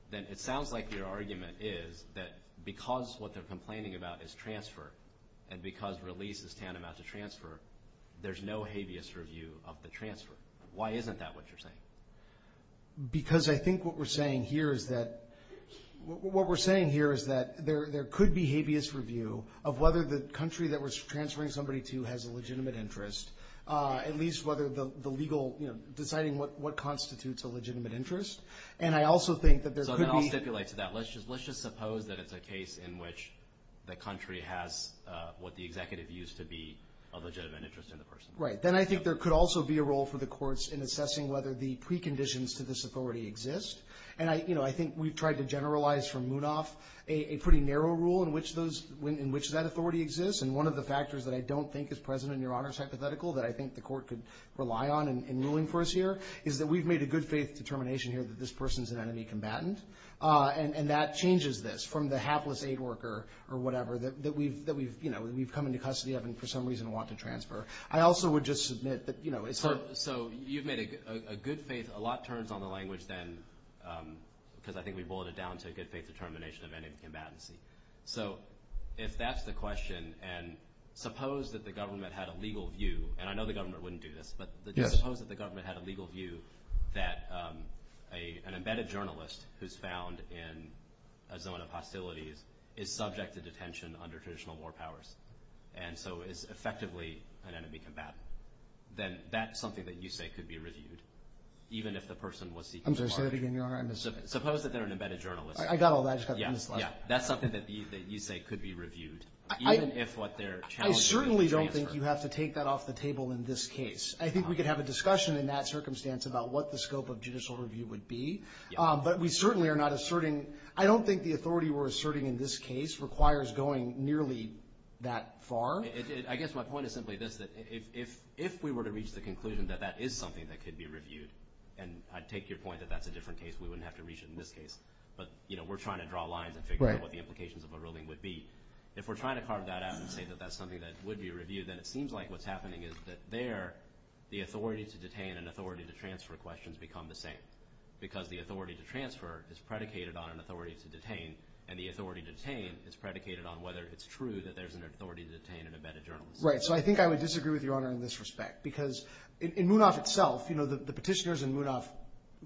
Then it sounds like your argument is that because what they're complaining about is transfer and because release is tantamount to transfer, there's no habeas review of the transfer. Why isn't that what you're saying? Because I think what we're saying here is that – what we're saying here is that there could be habeas review of whether the country that we're transferring somebody to has a legitimate interest, at least whether the legal – deciding what constitutes a legitimate interest. And I also think that there could be – So then I'll stipulate to that. Let's just suppose that it's a case in which the country has what the executive views to be a legitimate interest in the person. Right. Then I think there could also be a role for the courts in assessing whether the preconditions to this authority exist. And I think we've tried to generalize from Munoz a pretty narrow rule in which that authority exists. And one of the factors that I don't think is present in your Honor's hypothetical that I think the court could rely on in ruling for us here is that we've made a good-faith determination here that this person is an enemy combatant. And that changes this from the hapless aid worker or whatever that we've come into custody of and for some reason want to transfer. I also would just submit that – So you've made a good faith – a lot turns on the language then, because I think we've boiled it down to a good-faith determination of enemy combatancy. So if that's the question, and suppose that the government had a legal view, and I know the government wouldn't do this, but suppose that the government had a legal view that an embedded journalist who's found in a zone of hostility is subject to detention under traditional war powers and so is effectively an enemy combatant. Then that's something that you say could be reviewed, even if the person was seeking – I'm sorry, say that again, Your Honor. Suppose that they're an embedded journalist. I got all that stuff. Yeah, yeah. That's something that you say could be reviewed, even if what they're challenging – I certainly don't think you have to take that off the table in this case. I think we could have a discussion in that circumstance about what the scope of judicial review would be. But we certainly are not asserting – I don't think the authority we're asserting in this case requires going nearly that far. I guess my point is simply this, that if we were to reach the conclusion that that is something that could be reviewed – and I take your point that that's a different case. We wouldn't have to reach it in this case. But we're trying to draw lines and figure out what the implications of a ruling would be. If we're trying to carve that out and say that that's something that would be reviewed, then it seems like what's happening is that there the authority to detain and authority to transfer questions become the same because the authority to transfer is predicated on an authority to detain, and the authority to detain is predicated on whether it's true that there's an authority to detain an embedded journalist. Right, so I think I would disagree with Your Honor in this respect because in Munaf itself, you know, the petitioners in Munaf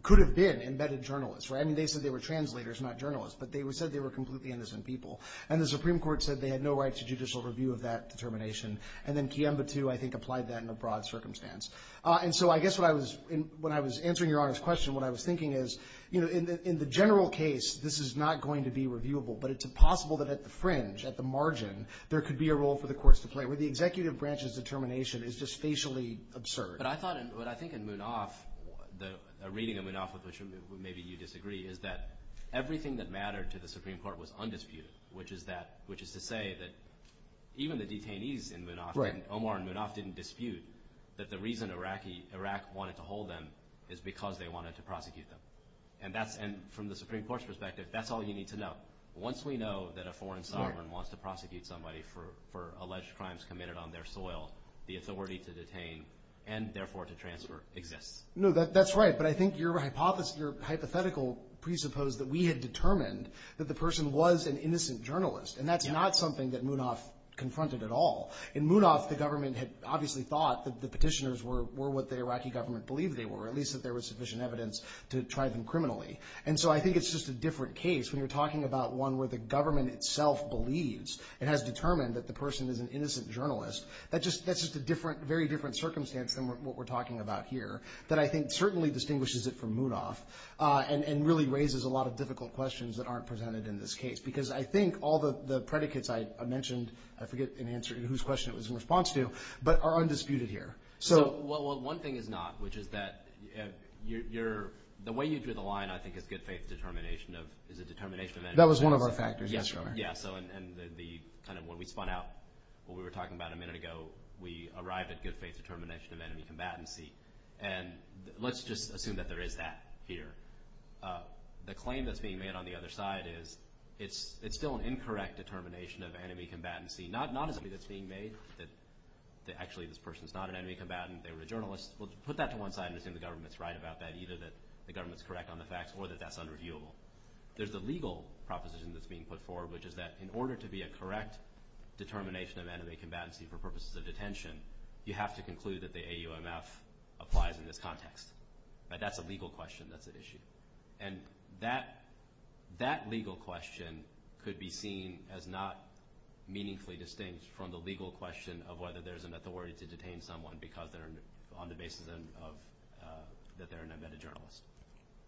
could have been embedded journalists, right? And they said they were translators, not journalists, but they said they were completely innocent people. And the Supreme Court said they had no right to judicial review of that determination. And then Kiemba, too, I think applied that in a broad circumstance. And so I guess what I was – when I was answering Your Honor's question, what I was thinking is, you know, in the general case this is not going to be reviewable, but it's possible that at the fringe, at the margin, there could be a role for the courts to play where the executive branch's determination is just facially absurd. But I thought – what I think in Munaf, the reading of Munaf, which maybe you disagree, is that everything that mattered to the Supreme Court was undisputed, which is that – which is to say that even the detainees in Munaf, Omar and Munaf, didn't dispute that the reason Iraq wanted to hold them is because they wanted to prosecute them. And that's – and from the Supreme Court's perspective, that's all you need to know. Once we know that a foreign sovereign wants to prosecute somebody for alleged crimes committed on their soil, the authority to detain and therefore to transfer exists. No, that's right, but I think your hypothetical presupposed that we had determined that the person was an innocent journalist, and that's not something that Munaf confronted at all. In Munaf, the government had obviously thought that the petitioners were what the Iraqi government believed they were, at least that there was sufficient evidence to try them criminally. And so I think it's just a different case when you're talking about one where the government itself believes and has determined that the person is an innocent journalist. That's just a different – very different circumstance than what we're talking about here that I think certainly distinguishes it from Munaf and really raises a lot of difficult questions that aren't presented in this case, because I think all the predicates I mentioned – I forget in answer to whose question it was in response to, but are undisputed here. Well, one thing is not, which is that you're – the way you drew the line, I think, is good faith determination of – is a determination of – That was one of our factors yesterday. Yeah, so and the – kind of when we spun out what we were talking about a minute ago, we arrived at good faith determination of enemy combatancy. And let's just assume that there is that here. The claim that's being made on the other side is it's still an incorrect determination of enemy combatancy, not as if it's being made that actually this person's not an enemy combatant, they were a journalist. Let's put that to one side and assume the government's right about that, either that the government's correct on the facts or that that's unreviewable. There's a legal proposition that's being put forward, which is that in order to be a correct determination of enemy combatancy for purposes of detention, you have to conclude that the AUMF applies in this context. That's a legal question that's at issue. And that legal question could be seen as not meaningfully distinct from the legal question of whether there's an authority to detain someone because they're – on the basis of – that they're an undetected journalist.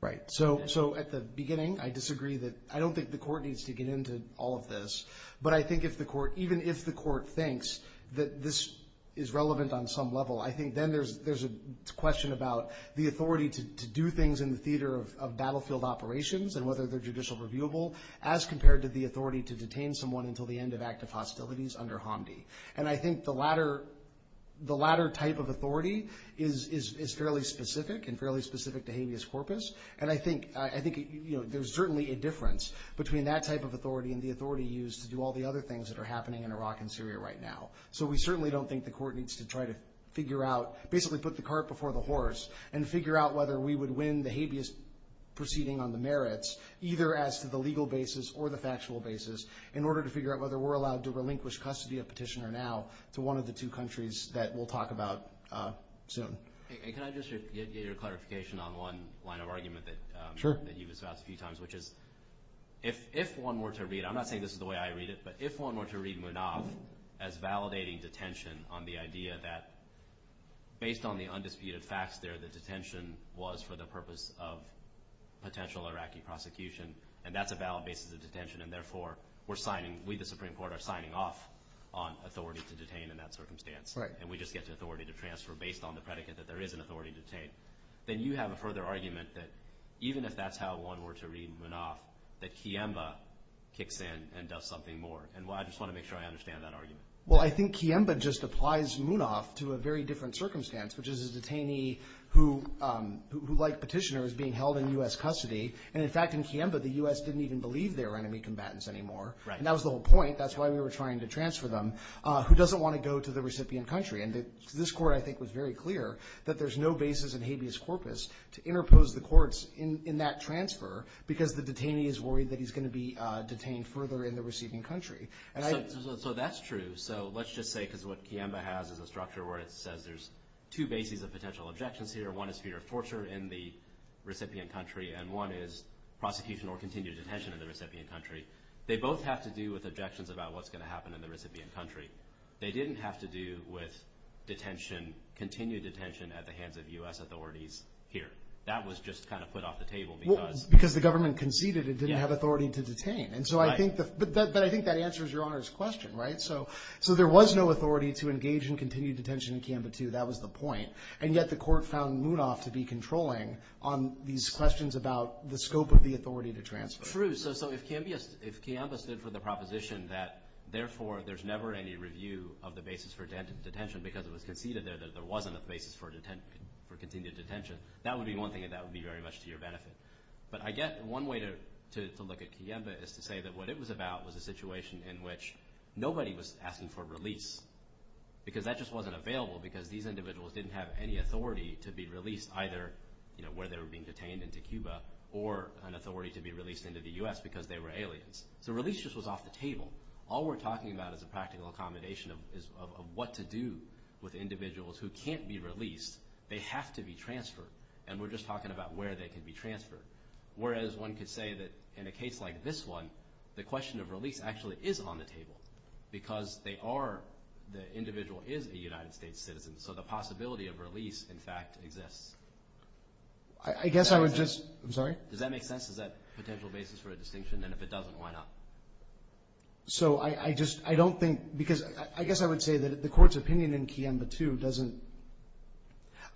Right. So at the beginning, I disagree that – I don't think the court needs to get into all of this, but I think if the court – even if the court thinks that this is relevant on some level, I think then there's a question about the authority to do things in the theater of battlefield operations and whether they're judicial reviewable as compared to the authority to detain someone until the end of active hostilities under Hamdi. And I think the latter – the latter type of authority is fairly specific and fairly specific to helios corpus. And I think – I think, you know, there's certainly a difference between that type of authority and the authority used to do all the other things that are happening in Iraq and Syria right now. So we certainly don't think the court needs to try to figure out – basically put the cart before the horse and figure out whether we would win the habeas proceeding on the merits, either as to the legal basis or the factual basis, in order to figure out whether we're allowed to relinquish custody of Petitioner Now to one of the two countries that we'll talk about soon. And can I just get your clarification on one line of argument that you discussed a few times, which is if one were to read – I'm not saying this is the way I read it, but if one were to read Manaaf as validating detention on the idea that, based on the undisputed facts there, the detention was for the purpose of potential Iraqi prosecution, and that's a valid basis of detention, and therefore we're signing – we, the Supreme Court, are signing off on authority to detain in that circumstance. And we just get the authority to transfer based on the predicate that there is an authority to detain. Then you have a further argument that even if that's how one were to read Manaaf, that Kiemba kicks in and does something more. And I just want to make sure I understand that argument. Well, I think Kiemba just applies Manaaf to a very different circumstance, which is a detainee who, like Petitioner, is being held in U.S. custody. And, in fact, in Kiemba, the U.S. didn't even believe they were enemy combatants anymore. Right. And that was the whole point. That's why we were trying to transfer them. Who doesn't want to go to the recipient country? And this Court, I think, was very clear that there's no basis in habeas corpus to interpose the courts in that transfer, because the detainee is worried that he's going to be detained further in the receiving country. So that's true. So let's just say, because what Kiemba has is a structure where it says there's two bases of potential objections here. One is fear of torture in the recipient country, and one is prosecution or continued detention in the recipient country. They both have to do with objections about what's going to happen in the recipient country. They didn't have to do with detention, continued detention, at the hands of U.S. authorities here. That was just kind of put off the table. Because the government conceded it didn't have authority to detain. Right. But I think that answers Your Honor's question, right? So there was no authority to engage in continued detention in Kiemba II. That was the point. And yet the Court found Munoz to be controlling on these questions about the scope of the authority to transfer. That's true. So if Kiemba stood for the proposition that, therefore, there's never any review of the basis for detention because it was conceded there that there wasn't a basis for continued detention, that would be one thing, and that would be very much to your benefit. But I guess one way to look at Kiemba is to say that what it was about was a situation in which nobody was asking for release, because that just wasn't available because these individuals didn't have any authority to be released, either where they were being detained into Kiemba or an authority to be released into the U.S. because they were aliens. The release just was off the table. All we're talking about is a practical accommodation of what to do with individuals who can't be released. They have to be transferred, and we're just talking about where they can be transferred. Whereas one could say that in a case like this one, the question of release actually is on the table because they are, the individual is a United States citizen, so the possibility of release, in fact, exists. I guess I would just, I'm sorry? Does that make sense? Is that a potential basis for a distinction? And if it doesn't, why not? So I just, I don't think, because I guess I would say that the Court's opinion in Kiemba 2 doesn't,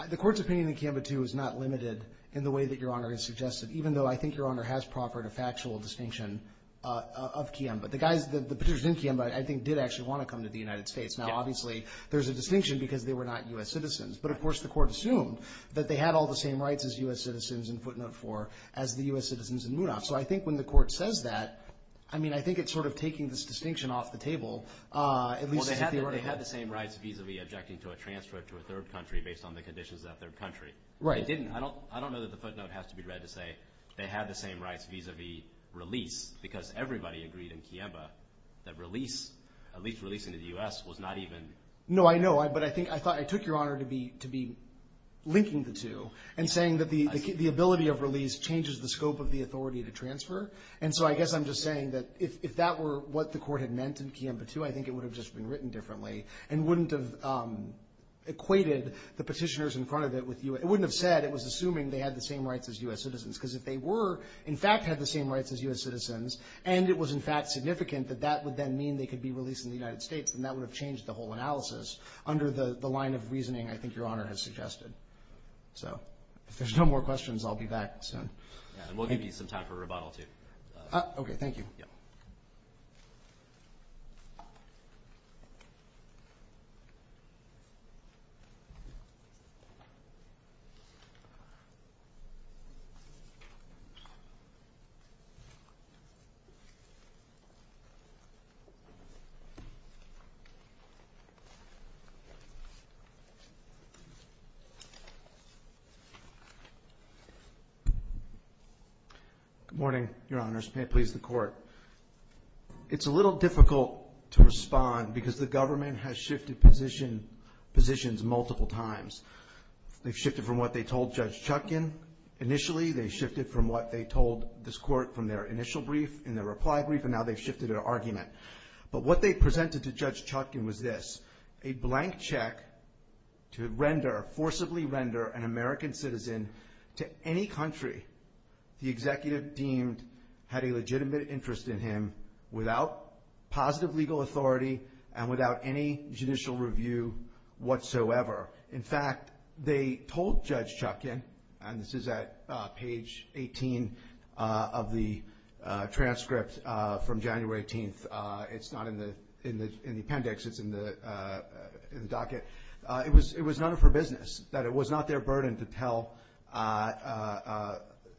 the Court's opinion in Kiemba 2 is not limited in the way that Your Honor has suggested, even though I think Your Honor has proffered a factual distinction of Kiemba. The guy, Peter Zinke in Kiemba, I think, did actually want to come to the United States. Now, obviously, there's a distinction because they were not U.S. citizens. But, of course, the Court assumed that they had all the same rights as U.S. citizens in footnote 4 as the U.S. citizens in Mudah. So I think when the Court says that, I mean, I think it's sort of taking this distinction off the table. Well, they had the same rights vis-a-vis objecting to a transfer to a third country based on the conditions of that third country. Right. They didn't. I mean, I don't know that the footnote has to be read to say they had the same rights vis-a-vis release because everybody agreed in Kiemba that release, at least release into the U.S., was not even. No, I know, but I think, I thought, I took Your Honor to be linking the two and saying that the ability of release changes the scope of the authority to transfer. And so I guess I'm just saying that if that were what the Court had meant in Kiemba 2, I think it would have just been written differently and wouldn't have equated the petitioners in front of it with U.S. It wouldn't have said it was assuming they had the same rights as U.S. citizens because if they were, in fact, had the same rights as U.S. citizens and it was, in fact, significant that that would then mean they could be released in the United States, then that would have changed the whole analysis under the line of reasoning I think Your Honor has suggested. So if there's no more questions, I'll be back soon. We'll give you some time for rebuttal, too. Okay, thank you. Yeah. Good morning, Your Honors. May it please the Court. It's a little difficult to respond because the government has shifted positions multiple times. They've shifted from what they told Judge Chutkan initially, they've shifted from what they told this Court from their initial brief in their reply brief, and now they've shifted their argument. But what they presented to Judge Chutkan was this, a blank check to render, forcibly render, an American citizen to any country the executive deemed had a legitimate interest in him without positive legal authority and without any judicial review whatsoever. In fact, they told Judge Chutkan, and this is at page 18 of the transcript from January 18th, it's not in the appendix, it's in the docket, it was none of her business, that it was not their burden to tell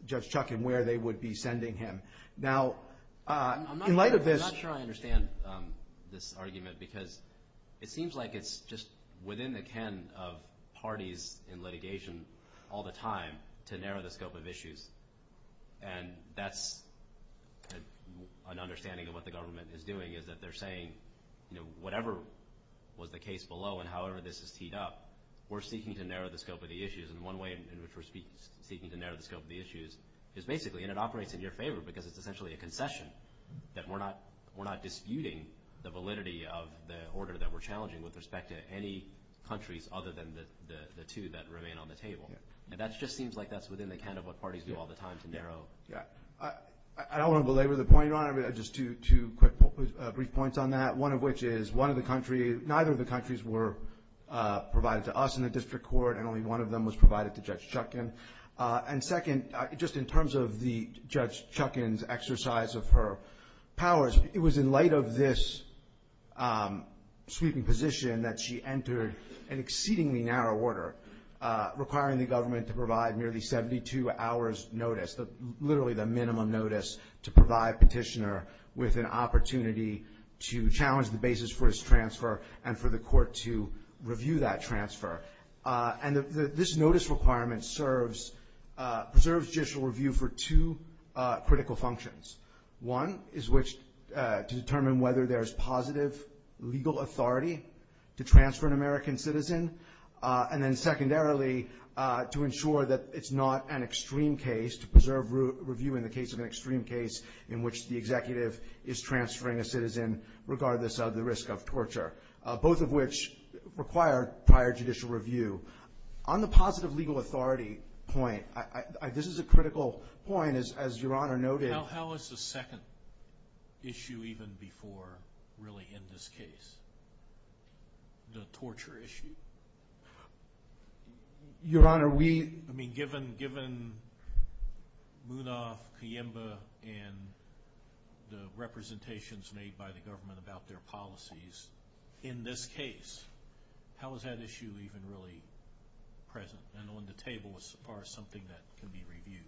Judge Chutkan where they would be sending him. Now, in light of this – I'm not sure I understand this argument because it seems like it's just within the ken of parties in litigation all the time to narrow the scope of issues, and that's an understanding of what the government is doing, is that they're saying whatever was the case below and however this is teed up, we're seeking to narrow the scope of the issues, and one way in which we're seeking to narrow the scope of the issues is basically, and it operates in your favor because it's essentially a concession, that we're not disputing the validity of the order that we're challenging with respect to any countries other than the two that remain on the table. And that just seems like that's within the ken of what parties do all the time to narrow. I don't want to belabor the point, Your Honor, but just two brief points on that, one of which is neither of the countries were provided to us in the district court and only one of them was provided to Judge Chutkan. And second, just in terms of the Judge Chutkan's exercise of her powers, it was in light of this sweeping position that she entered an exceedingly narrow order, requiring the government to provide nearly 72 hours' notice, literally the minimum notice to provide petitioner with an opportunity to challenge the basis for his transfer and for the court to review that transfer. And this notice requirement serves, preserves judicial review for two critical functions. One is which to determine whether there is positive legal authority to transfer an American citizen, and then secondarily to ensure that it's not an extreme case to preserve review in the case of an extreme case in which the executive is transferring a citizen regardless of the risk of torture, both of which require prior judicial review. On the positive legal authority point, this is a critical point, as Your Honor noted. How is the second issue even before really in this case, the torture issue? Your Honor, we... Given Munoz, Kieva, and the representations made by the government about their policies in this case, how is that issue even really present and on the table as far as something that can be reviewed?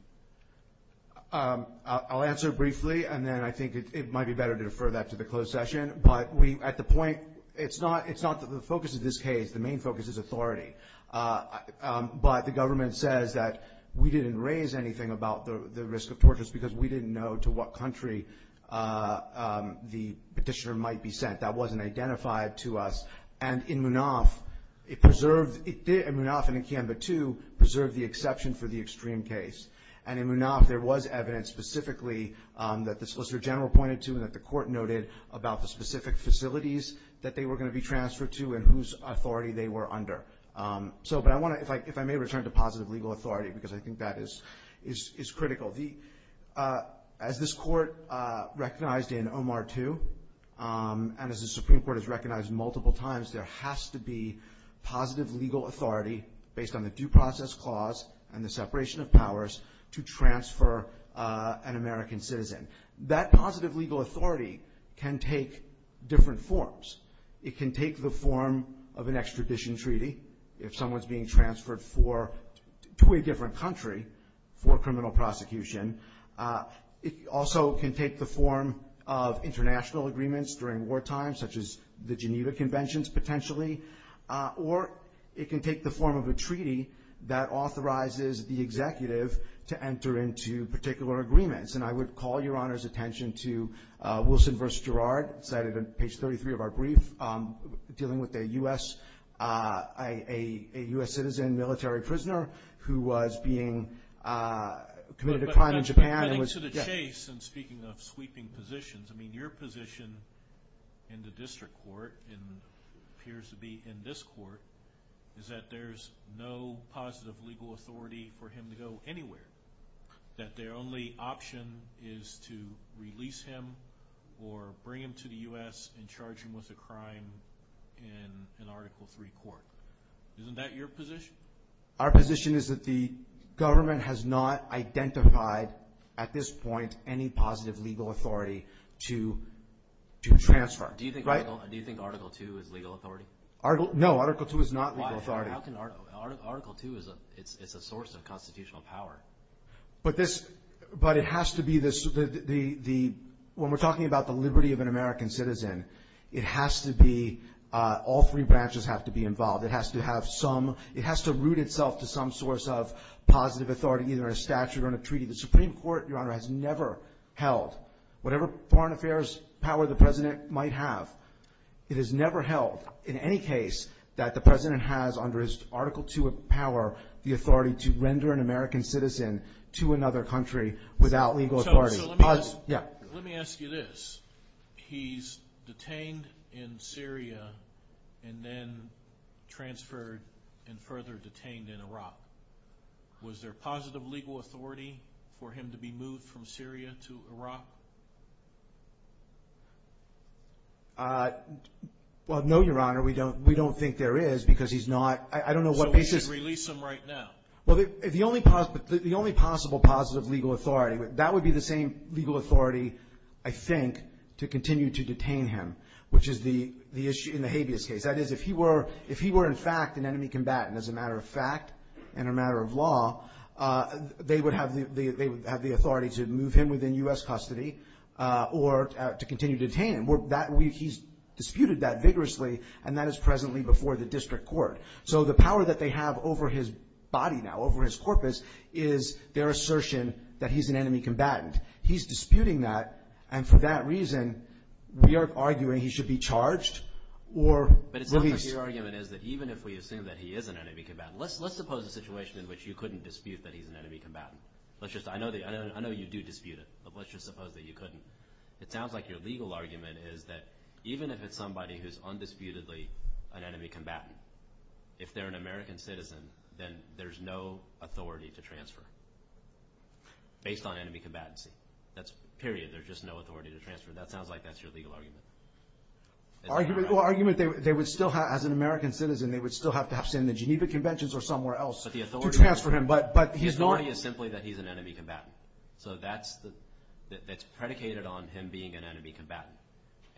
I'll answer briefly, and then I think it might be better to defer that to the closed session. But at the point, it's not the focus of this case. The main focus is authority. But the government says that we didn't raise anything about the risk of torture because we didn't know to what country the petitioner might be sent. That wasn't identified to us. And in Munoz, it preserved... In Munoz and in Kieva, too, preserved the exception for the extreme case. And in Munoz, there was evidence specifically that the Solicitor General pointed to and that the court noted about the specific facilities that they were going to be transferred to and whose authority they were under. But I want to... If I may return to positive legal authority, because I think that is critical. As this court recognized in Omar II, and as the Supreme Court has recognized multiple times, there has to be positive legal authority based on the due process clause and the separation of powers to transfer an American citizen. That positive legal authority can take different forms. It can take the form of an extradition treaty, if someone is being transferred to a different country for criminal prosecution. It also can take the form of international agreements during wartime, such as the Geneva Conventions, potentially. Or it can take the form of a treaty that authorizes the executive to enter into particular agreements. And I would call Your Honor's attention to Wilson v. Gerard, cited on page 33 of our brief, dealing with a U.S. citizen, military prisoner, who was being committed a crime in Japan and was... I think to the case, and speaking of sweeping positions, I mean, your position in the district court, and appears to be in this court, is that there is no positive legal authority for him to go anywhere. That their only option is to release him or bring him to the U.S. and charge him with a crime in an Article III court. Isn't that your position? Our position is that the government has not identified, at this point, any positive legal authority to transfer. Do you think Article II is legal authority? No, Article II is not legal authority. Article II is a source of constitutional power. But it has to be this... When we're talking about the liberty of an American citizen, it has to be... all three branches have to be involved. It has to have some... it has to root itself to some source of positive authority, either a statute or a treaty. The Supreme Court, Your Honor, has never held. Whatever foreign affairs power the President might have, it has never held, in any case, that the President has, under his Article II power, the authority to render an American citizen to another country without legal authority. Let me ask you this. He's detained in Syria and then transferred and further detained in Iraq. Was there positive legal authority for him to be moved from Syria to Iraq? Well, no, Your Honor. We don't think there is because he's not... So we should release him right now? Well, the only possible positive legal authority, that would be the same legal authority, I think, to continue to detain him, which is the issue in the habeas case. That is, if he were, in fact, an enemy combatant, as a matter of fact, in a matter of law, they would have the authority to move him within U.S. custody or to continue to detain him. He's disputed that vigorously, and that is presently before the district court. So the power that they have over his body now, over his corpus, is their assertion that he's an enemy combatant. He's disputing that, and for that reason, we are arguing he should be charged or released. But it's not that your argument is that even if we assume that he is an enemy combatant, let's suppose a situation in which you couldn't dispute that he's an enemy combatant. I know you do dispute it, but let's just suppose that you couldn't. It sounds like your legal argument is that even if it's somebody who's undisputedly an enemy combatant, if they're an American citizen, then there's no authority to transfer based on enemy combatancy. Period. There's just no authority to transfer. That sounds like that's your legal argument. Well, the argument they would still have, as an American citizen, they would still have perhaps in the Geneva Conventions or somewhere else to transfer him. But the authority is simply that he's an enemy combatant. So that's predicated on him being an enemy combatant.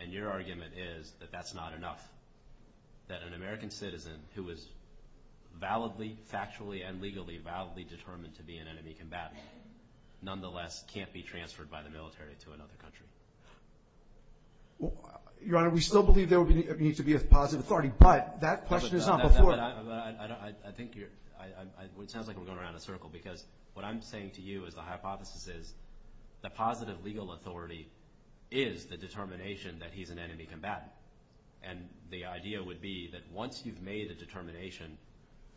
And your argument is that that's not enough, that an American citizen who is validly, factually, and legally validly determined to be an enemy combatant, nonetheless can't be transferred by the military to another country. Your Honor, we still believe there needs to be a positive authority, but that question is not before us. I think you're – it sounds like I'm going around in a circle, because what I'm saying to you is the hypothesis is the positive legal authority is the determination that he's an enemy combatant. And the idea would be that once you've made the determination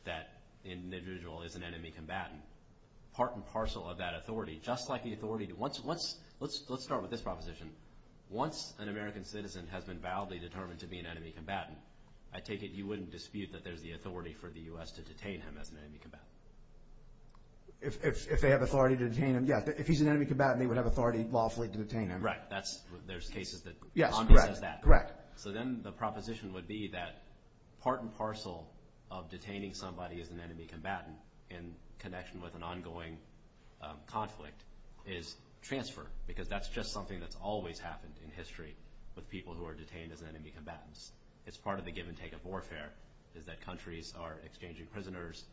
that an individual is an enemy combatant, part and parcel of that authority, just like the authority – let's start with this proposition. Once an American citizen has been validly determined to be an enemy combatant, I take it you wouldn't dispute that there's the authority for the U.S. to detain him as an enemy combatant? If they have authority to detain him, yes. If he's an enemy combatant, they would have authority lawfully to detain him. Right. That's – there's cases that contrast that. Yes, correct, correct. So then the proposition would be that part and parcel of detaining somebody as an enemy combatant in connection with an ongoing conflict is transfer, because that's just something that's always happened in history with people who are detained as enemy combatants. It's part of the give-and-take of warfare is that countries are exchanging prisoners.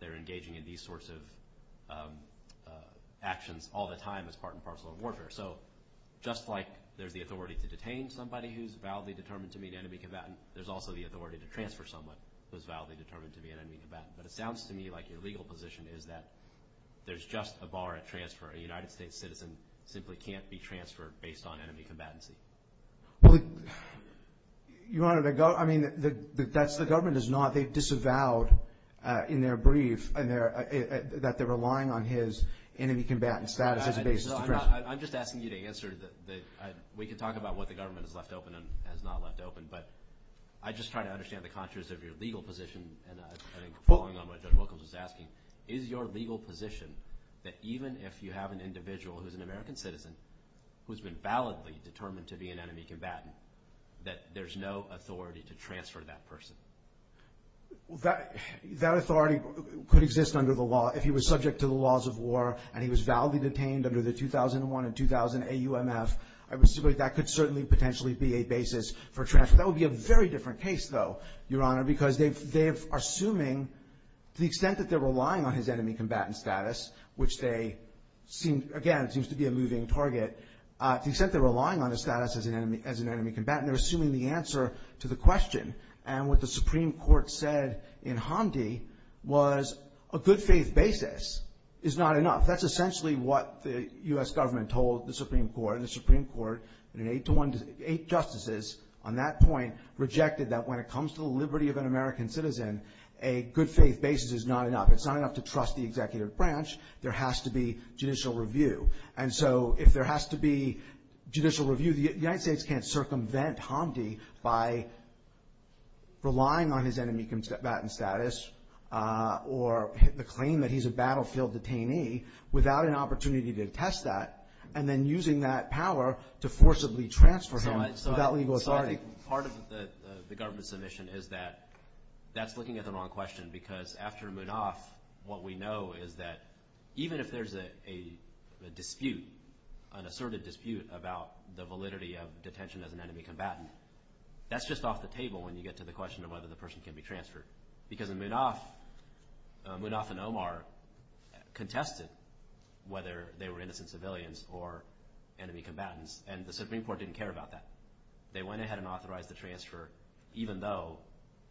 They're engaging in these sorts of actions all the time as part and parcel of warfare. So just like there's the authority to detain somebody who's validly determined to be an enemy combatant, there's also the authority to transfer someone who's validly determined to be an enemy combatant. But it sounds to me like your legal position is that there's just a bar at transfer. A United States citizen simply can't be transferred based on enemy combatancy. Well, you wanted to go – I mean, that's – the government is not disavowed in their brief that they're relying on his enemy combatant status as a basis. I'm just asking you to answer the – we can talk about what the government has left open and has not left open, but I'm just trying to understand the contours of your legal position. And I think following on what Judge Wilkins was asking, is your legal position that even if you have an individual who's an American citizen who's been validly determined to be an enemy combatant, that there's no authority to transfer that person? That authority could exist under the law if he was subject to the laws of war and he was validly detained under the 2001 and 2000 AUMF. That could certainly potentially be a basis for transfer. That would be a very different case, though, Your Honor, because they are assuming – to the extent that they're relying on his enemy combatant status, which they seem – again, it seems to be a moving target. To the extent they're relying on his status as an enemy combatant, they're assuming the answer to the question. And what the Supreme Court said in Hamdi was a good faith basis is not enough. That's essentially what the U.S. government told the Supreme Court, and eight justices on that point rejected that when it comes to the liberty of an American citizen, a good faith basis is not enough. It's not enough to trust the executive branch. There has to be judicial review. And so if there has to be judicial review, the United States can't circumvent Hamdi by relying on his enemy combatant status or the claim that he's a battlefield detainee without an opportunity to attest that, and then using that power to forcibly transfer him without legal authority. So I think part of the government's submission is that that's looking at the wrong question, because after Munoz, what we know is that even if there's a dispute, an assertive dispute about the validity of detention as an enemy combatant, that's just off the table when you get to the question of whether the person can be transferred. Because Munoz and Omar contested whether they were innocent civilians or enemy combatants, and the Supreme Court didn't care about that. They went ahead and authorized the transfer, even though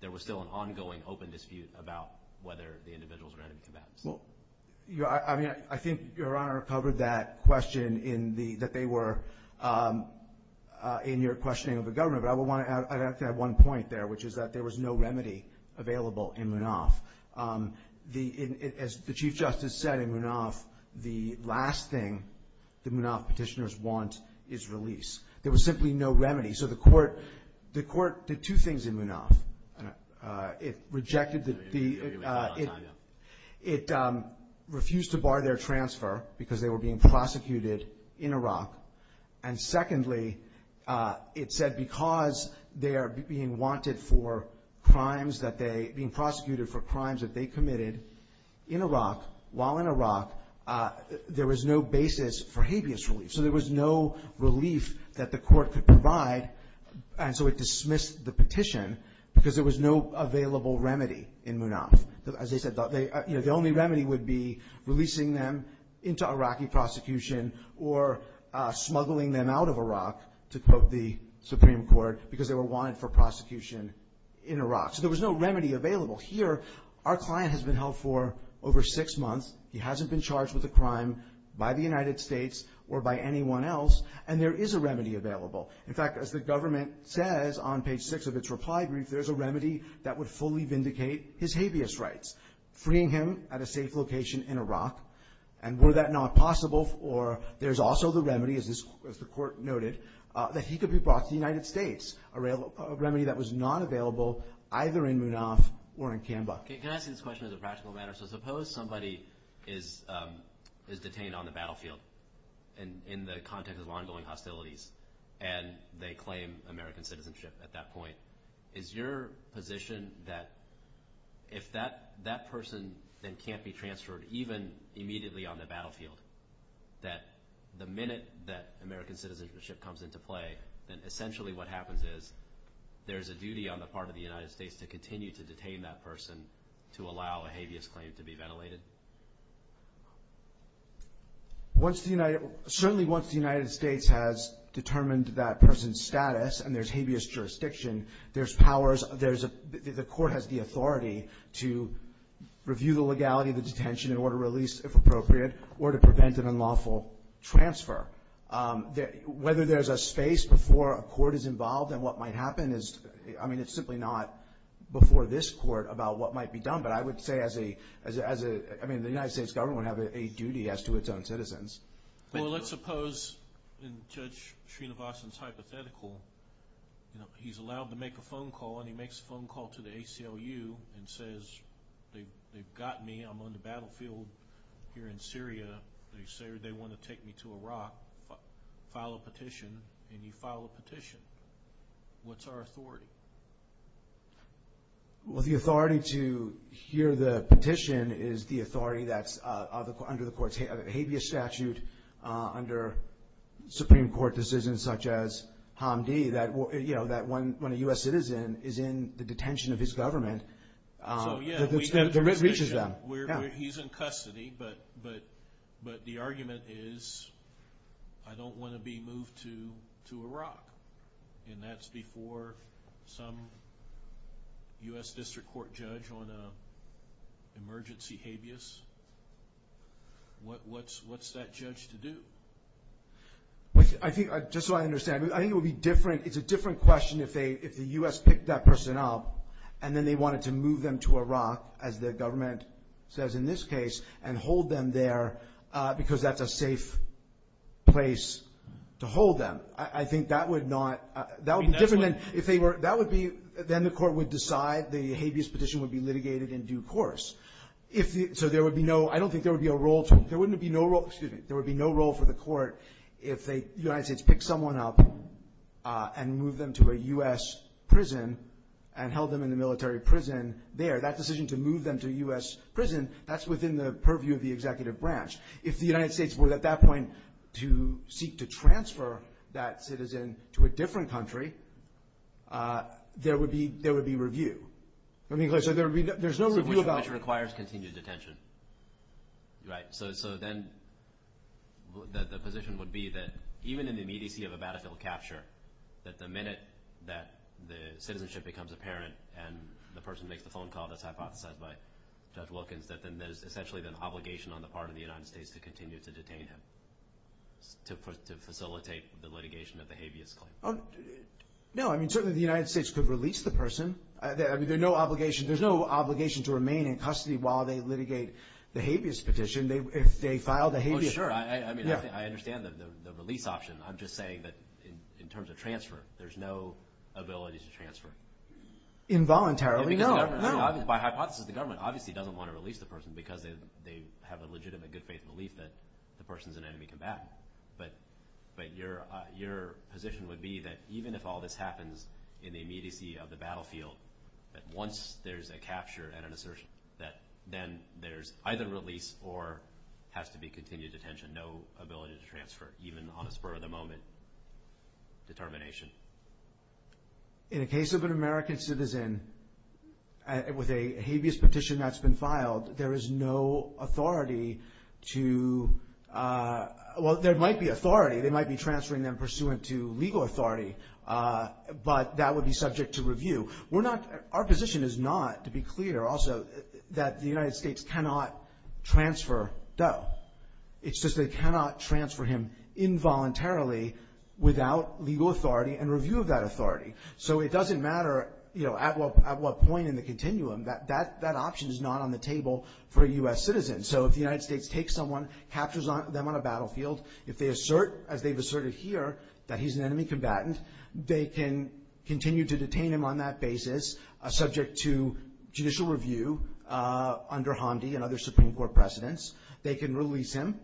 there was still an ongoing open dispute about whether the individuals were enemy combatants. I think Your Honor covered that question in your questioning of the government, but I would like to add one point there, which is that there was no remedy available in Munoz. As the Chief Justice said in Munoz, the last thing the Munoz petitioners want is release. There was simply no remedy. So the court did two things in Munoz. It refused to bar their transfer because they were being prosecuted in Iraq, and secondly, it said because they are being wanted for crimes that they – being prosecuted for crimes that they committed in Iraq, while in Iraq, there was no basis for habeas relief. So there was no relief that the court could provide, and so it dismissed the petition because there was no available remedy in Munoz. The only remedy would be releasing them into Iraqi prosecution or smuggling them out of Iraq to, quote, the Supreme Court because they were wanted for prosecution in Iraq. So there was no remedy available. Here, our client has been held for over six months. He hasn't been charged with a crime by the United States or by anyone else, and there is a remedy available. In fact, as the government says on page six of its reply brief, there's a remedy that would fully vindicate his habeas rights, freeing him at a safe location in Iraq. And were that not possible, or there's also the remedy, as the court noted, that he could be brought to the United States, a remedy that was not available either in Munoz or in Kanba. Can I ask you this question as a practical matter? So suppose somebody is detained on the battlefield in the context of ongoing hostilities, and they claim American citizenship at that point. Is your position that if that person then can't be transferred even immediately on the battlefield, that the minute that American citizenship comes into play, then essentially what happens is there's a duty on the part of the United States to continue to detain that person to allow a habeas claim to be ventilated? Certainly once the United States has determined that person's status and there's habeas jurisdiction, the court has the authority to review the legality of the detention in order to release, if appropriate, or to prevent an unlawful transfer. Whether there's a space before a court is involved in what might happen is – I mean, it's simply not before this court about what might be done. But I would say as a – I mean, the United States government would have a duty as to its own citizens. Well, let's suppose, in Judge Srinivasan's hypothetical, he's allowed to make a phone call, and he makes a phone call to the ACLU and says, they've got me, I'm on the battlefield here in Syria, and they say they want to take me to Iraq, file a petition, and you file a petition. What's our authority? Well, the authority to hear the petition is the authority that's under the court's habeas statute under Supreme Court decisions such as Hamdi that, you know, that when a U.S. citizen is in the detention of his government, the writ reaches them. He's in custody, but the argument is I don't want to be moved to Iraq, and that's before some U.S. district court judge on an emergency habeas. What's that judge to do? I think – just so I understand, I think it would be different – it's a different question if the U.S. picked that person up and then they wanted to move them to Iraq, as the government says in this case, and hold them there because that's a safe place to hold them. I think that would not – that would be different than if they were – that would be – then the court would decide the habeas petition would be litigated in due course. So there would be no – I don't think there would be a role for – there wouldn't be no role – excuse me – there would be no role for the court if the United States picked someone up and moved them to a U.S. prison and held them in the military prison there. That decision to move them to a U.S. prison, that's within the purview of the executive branch. If the United States were at that point to seek to transfer that citizen to a different country, there would be review. I mean, so there would be – there's no review about – Which requires continued detention, right? So then the position would be that even in the immediacy of a battle to capture, that the minute that the citizenship becomes apparent and the person makes the phone call that's hypothesized by Judge Wilkins, that then there's essentially the obligation on the part of the United States to continue to detain him to facilitate the litigation of the habeas claim. No, I mean, certainly the United States could release the person. I mean, while they litigate the habeas petition, if they file the habeas – Well, sure. I mean, I understand the release option. I'm just saying that in terms of transfer, there's no ability to transfer. Involuntarily, no. By hypothesis, the government obviously doesn't want to release the person because they have a legitimate good faith belief that the person's an enemy combatant. But your position would be that even if all this happens in the immediacy of the battlefield, that once there's a capture and an assertion, that then there's either release or has to be continued detention, no ability to transfer even on the spur of the moment determination? In the case of an American citizen, with a habeas petition that's been filed, there is no authority to – well, there might be authority. They might be transferring them pursuant to legal authority, but that would be subject to review. We're not – our position is not, to be clear also, that the United States cannot transfer Doe. It's just they cannot transfer him involuntarily without legal authority and review of that authority. So it doesn't matter, you know, at what point in the continuum. That option is not on the table for a U.S. citizen. So if the United States takes someone, captures them on a battlefield, if they assert, as they've asserted here, that he's an enemy combatant, they can continue to detain him on that basis, subject to judicial review, under Hamdi and other Supreme Court precedents. They can release him.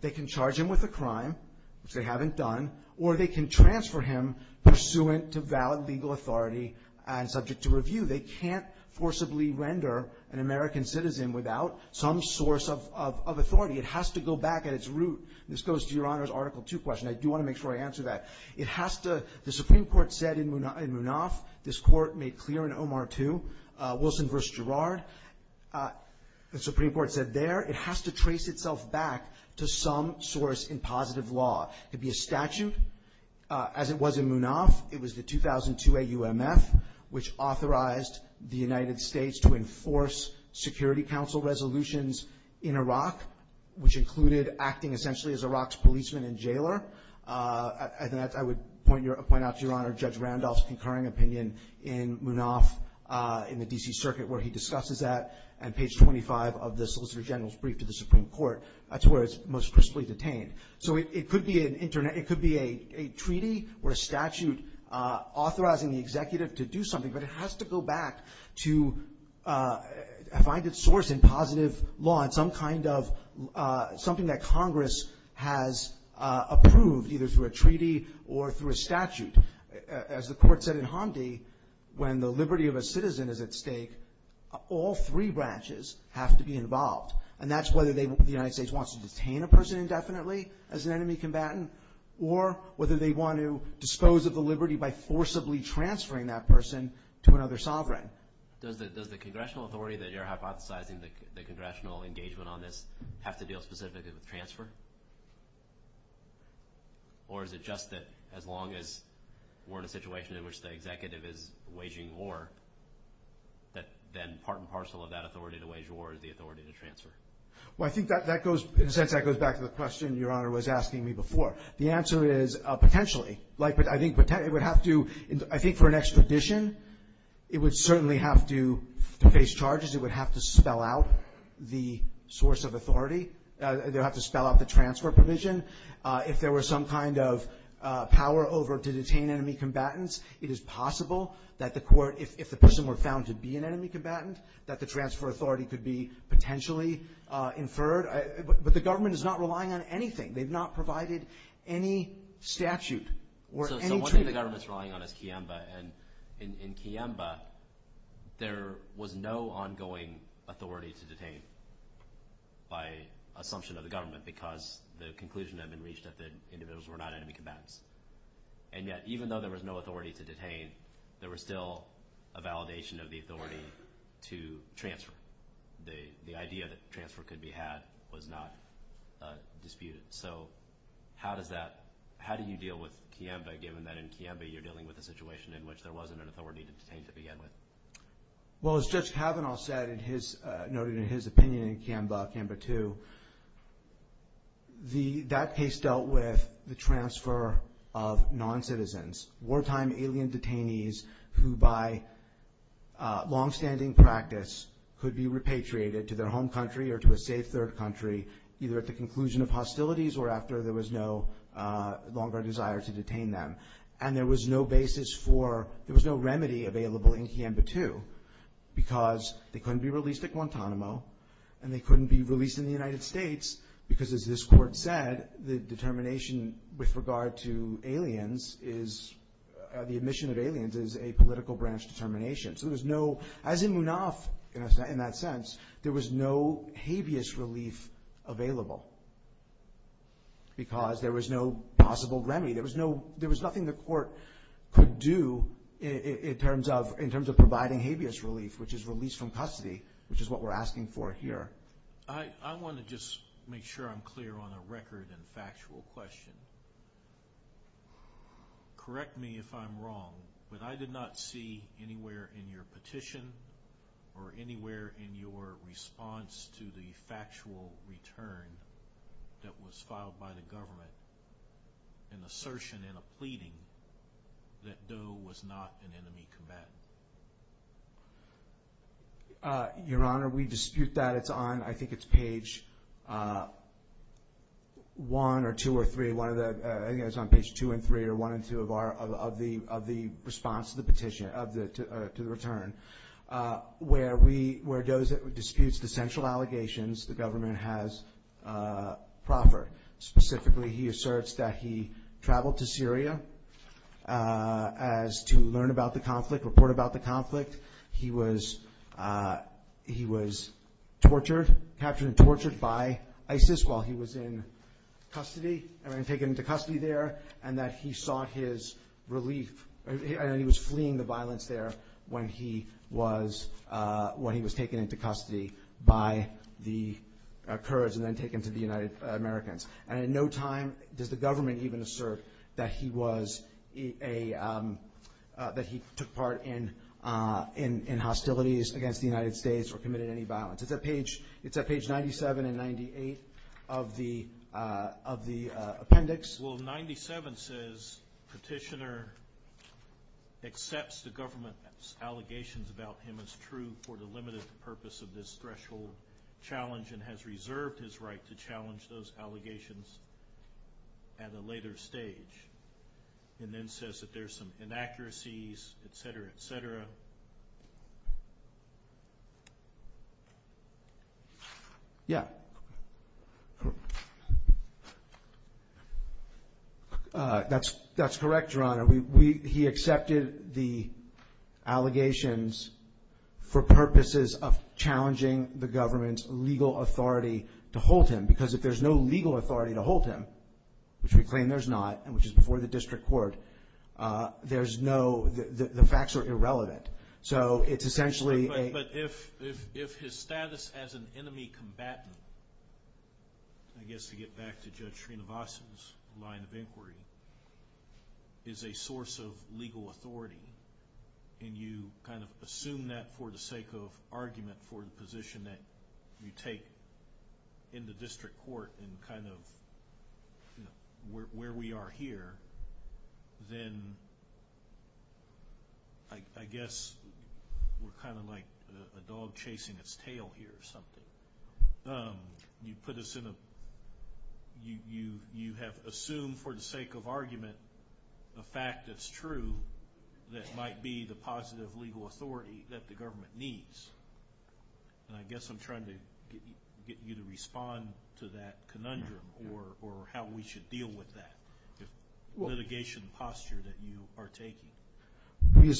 They can charge him with a crime, which they haven't done, or they can transfer him pursuant to valid legal authority and subject to review. They can't forcibly render an American citizen without some source of authority. It has to go back at its root. This goes to Your Honor's Article 2 question. I do want to make sure I answer that. It has to – the Supreme Court said in Munaf, this court made clear in Omar 2, Wilson v. Girard, the Supreme Court said there it has to trace itself back to some source in positive law. It'd be a statute, as it was in Munaf. It was the 2002 AUMF, which authorized the United States to enforce Security Council resolutions in Iraq, which included acting essentially as Iraq's policeman and jailer. I would point out, Your Honor, Judge Randolph's concurring opinion in Munaf, in the D.C. Circuit, where he discusses that, and page 25 of the Solicitor General's brief to the Supreme Court. That's where it's most crisply detained. So it could be a treaty or a statute authorizing the executive to do something, but it has to go back to find its source in positive law, in some kind of – something that Congress has approved, either through a treaty or through a statute. As the court said in Hamdi, when the liberty of a citizen is at stake, all three branches have to be involved. And that's whether the United States wants to detain a person indefinitely as an enemy combatant, or whether they want to dispose of the liberty by forcibly transferring that person to another sovereign. Does the congressional authority that you're hypothesizing, the congressional engagement on this, have to deal specifically with transfer? Or is it just that as long as we're in a situation in which the executive is waging war, then part and parcel of that authority to wage war is the authority to transfer? Well, I think that goes – in a sense, that goes back to the question Your Honor was asking me before. The answer is potentially. Like, I think it would have to – I think for an expedition, it would certainly have to face charges. It would have to spell out the source of authority. It would have to spell out the transfer provision. If there was some kind of power over to detain enemy combatants, it is possible that the court – if the person were found to be an enemy combatant, that the transfer authority could be potentially inferred. But the government is not relying on anything. They've not provided any statute or any treatment. So what is the government relying on is Kiemba. And in Kiemba, there was no ongoing authority to detain by assumption of the government because the conclusion had been reached that the individuals were not enemy combatants. And yet, even though there was no authority to detain, there was still a validation of the authority to transfer. The idea that transfer could be had was not disputed. So how does that – how do you deal with Kiemba given that in Kiemba, you're dealing with a situation in which there wasn't an authority to detain to begin with? Well, as Judge Kavanaugh said in his – noted in his opinion in Kiemba, Kiemba 2, that case dealt with the transfer of noncitizens, wartime alien detainees who by longstanding practice could be repatriated to their home country or to a safe third country either at the conclusion of hostilities or after there was no longer desire to detain them. And there was no basis for – there was no remedy available in Kiemba 2 because they couldn't be released at Guantanamo and they couldn't be released in the United States because as this court said, the determination with regard to aliens is – the admission of aliens is a political branch determination. So there was no – as in Munaft in that sense, there was no habeas relief available because there was no possible remedy. There was no – there was nothing the court could do in terms of providing habeas relief, which is release from custody, which is what we're asking for here. I want to just make sure I'm clear on a record and factual question. Correct me if I'm wrong, but I did not see anywhere in your petition or anywhere in your response to the factual return that was filed by the government an assertion and a pleading that Doe was not an enemy combatant. Your Honor, we dispute that. It's on – I think it's page 1 or 2 or 3. One of the – I think it's on page 2 and 3 or 1 and 2 of our – of the response to the petition, of the – to the return, where we – where Doe disputes the central allegations the government has proffered, specifically he asserts that he traveled to Syria as to learn about the conflict, report about the conflict. He was tortured, captured and tortured by ISIS while he was in custody and then taken into custody there and that he sought his relief and he was fleeing the violence there when he was taken into custody by the Kurds and then taken to the United Americans. And in no time does the government even assert that he was a – that he took part in hostilities against the United States or committed any violence. It's at page 97 and 98 of the appendix. Well, 97 says petitioner accepts the government's allegations about him as true for the limited purpose of this threshold challenge and has reserved his right to challenge those allegations at a later stage and then says that there's some inaccuracies, et cetera, et cetera. That's correct, Your Honor. He accepted the allegations for purposes of challenging the government's legal authority to hold him because if there's no legal authority to hold him, which we claim there's not, which is before the district court, there's no – the facts are irrelevant. So it's essentially a – But if his status as an enemy combatant – I guess to get back to Judge Trinovaso's line of inquiry – is a source of legal authority and you kind of assume that for the sake of argument for the position that you take in the district court and kind of where we are here, then I guess we're kind of like a dog chasing its tail here or something. You put us in a – you have assumed for the sake of argument the fact that's true that might be the positive legal authority that the government needs. And I guess I'm trying to get you to respond to that conundrum or how we should deal with that litigation posture that you are taking. We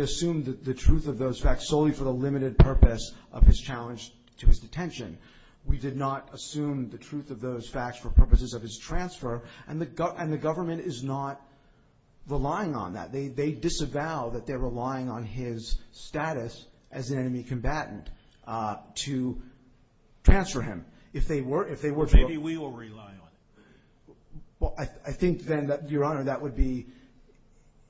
assumed the truth of those facts solely for the limited purpose of his challenge to his detention. We did not assume the truth of those facts for purposes of his transfer, and the government is not relying on that. They disavow that they're relying on his status as an enemy combatant to transfer him. If they were – Maybe we will rely on it. Well, I think then, Your Honor, that would be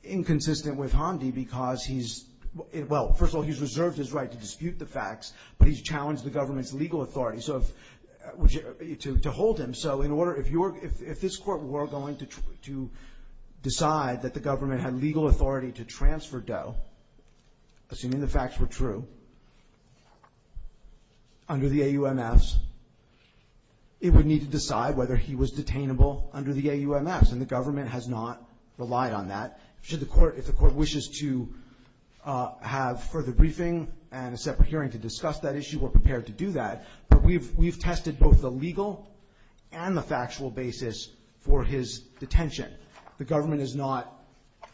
inconsistent with Hondi because he's – well, first of all, he's reserved his right to dispute the facts, but he's challenged the government's legal authority to hold him. So in order – if this court were going to decide that the government had legal authority to transfer Doe, assuming the facts were true, under the AUMS, it would need to decide whether he was detainable under the AUMS, and the government has not relied on that. If the court wishes to have further briefing and a separate hearing to discuss that issue, we're prepared to do that. But we've tested both the legal and the factual basis for his detention. The government is not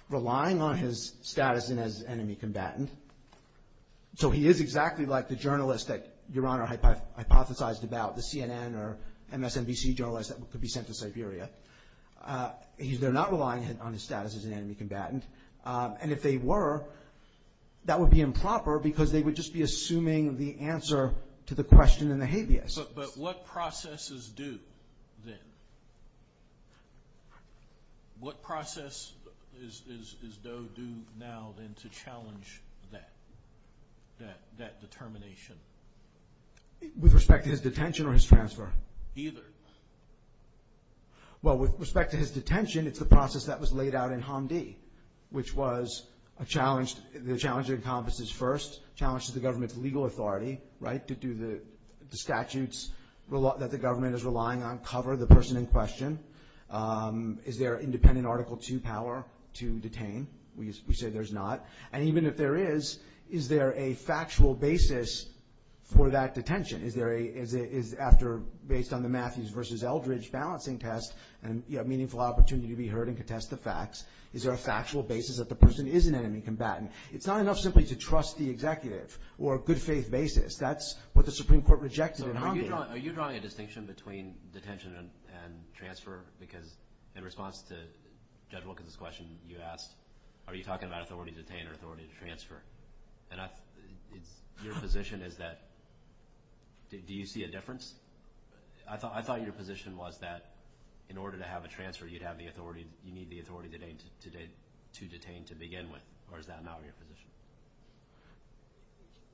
relying on his status as enemy combatant. So he is exactly like the journalist that Your Honor hypothesized about, the CNN or MSNBC journalist that could be sent to Siberia. They're not relying on his status as an enemy combatant. And if they were, that would be improper because they would just be assuming the answer to the question in the habeas. But what processes do then? to challenge that determination? With respect to his detention or his transfer? Either. Well, with respect to his detention, it's the process that was laid out in Hamdi, which was a challenge – the challenge of encompasses first, challenges the government's legal authority, right, to do the statutes that the government is relying on, cover the person in question. Is there independent Article II power to detain? We say there's not. And even if there is, is there a factual basis for that detention? Is there a – after, based on the Matthews v. Eldridge balancing test, a meaningful opportunity to be heard and to test the facts, is there a factual basis that the person isn't an enemy combatant? It's not enough simply to trust the executive or a good-faith basis. That's what the Supreme Court rejected in Hamdi. Are you drawing a distinction between detention and transfer because in response to Judge Wilkins' question, you asked, are you talking about authority to detain or authority to transfer? Your position is that – do you see a difference? I thought your position was that in order to have a transfer, you'd have the authority – you need the authority to detain to begin with, or is that not your position?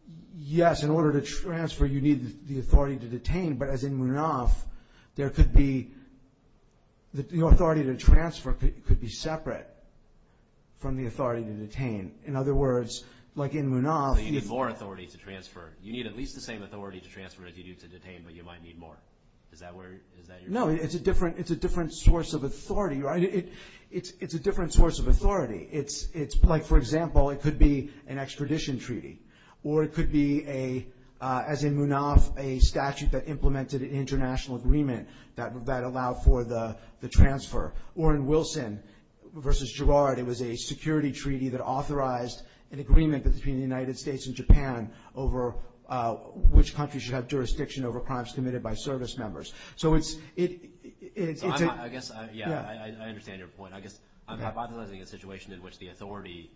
I'm not saying, but as in Munaf, there could be – the authority to transfer could be separate from the authority to detain. In other words, like in Munaf – You need more authority to transfer. You need at least the same authority to transfer as you do to detain, but you might need more. Is that where – is that your – No, it's a different source of authority. It's a different source of authority. It's like, for example, it could be an extradition treaty, or it could be a – as in Munaf, a statute that implemented an international agreement that allowed for the transfer. Or in Wilson v. Girard, it was a security treaty that authorized an agreement between the United States and Japan over which country should have jurisdiction over crimes committed by service members. So it's – I guess, yeah, I understand your point. I guess I'm hypothesizing a situation in which the authority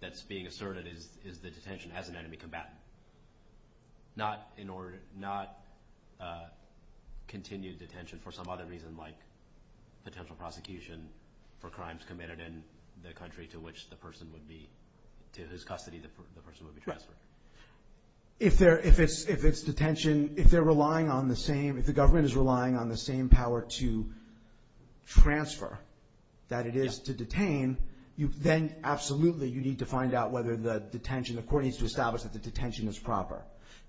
that's being asserted is the detention as an enemy combatant, not in order – not continued detention for some other reason like potential prosecution for crimes committed in the country to which the person would be – to his custody, the person would be transferred. If there – if it's detention – if they're relying on the same – if the government is relying on the same power to transfer that it is to detain, then absolutely you need to find out whether the detention – the court needs to establish that the detention is proper,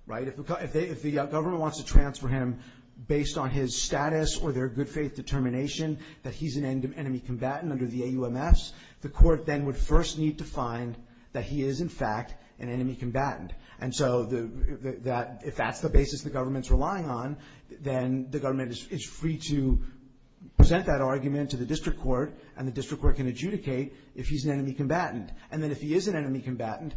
right? If the government wants to transfer him based on his status or their good faith determination that he's an enemy combatant under the AUMS, the court then would first need to find that he is, in fact, an enemy combatant. And so if that's the basis the government's relying on, then the government is free to present that argument to the district court, and the district court can adjudicate if he's an enemy combatant. And then if he is an enemy combatant,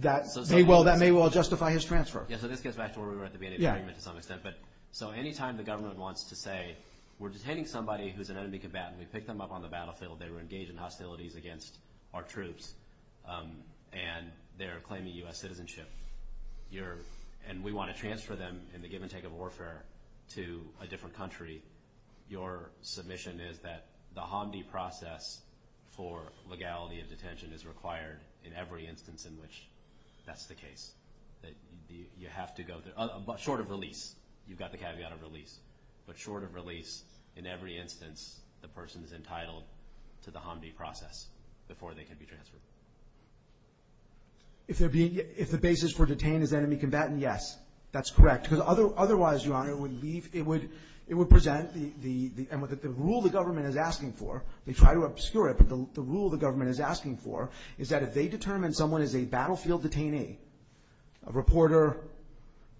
that may well – that may well justify his transfer. Yeah, so this goes back to where we were at the beginning of the argument to some extent. But – so any time the government wants to say we're detaining somebody who's an enemy combatant, we pick them up on the battlefield, they were engaged in hostilities against our troops, and they're claiming U.S. citizenship, you're – and we want to transfer them in the give and take of warfare to a different country, your submission is that the HMDI process for legality of detention is required in every instance in which that's the case, that you have to go to – but short of release, you've got the caveat of release. But short of release, in every instance, the person is entitled to the HMDI process before they can be transferred. If the basis for detain is enemy combatant, yes, that's correct. Because otherwise, Your Honor, it would leave – it would present the – and the rule the government is asking for – they try to obscure it, but the rule the government is asking for is that if they determine someone is a battlefield detainee – a reporter,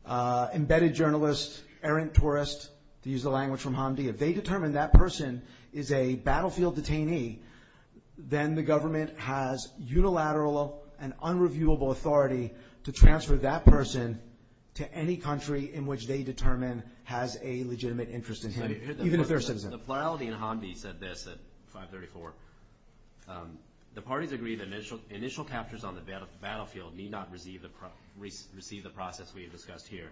embedded journalist, errant tourist, to use the language from HMDI – if they determine that person is a battlefield detainee, then the government has unilateral and unreviewable authority to transfer that person to any country in which they determine has a legitimate interest in him, even if they're a citizen. The plurality in HMDI said this at 534. The parties agreed initial captures on the battlefield need not receive the process we have discussed here.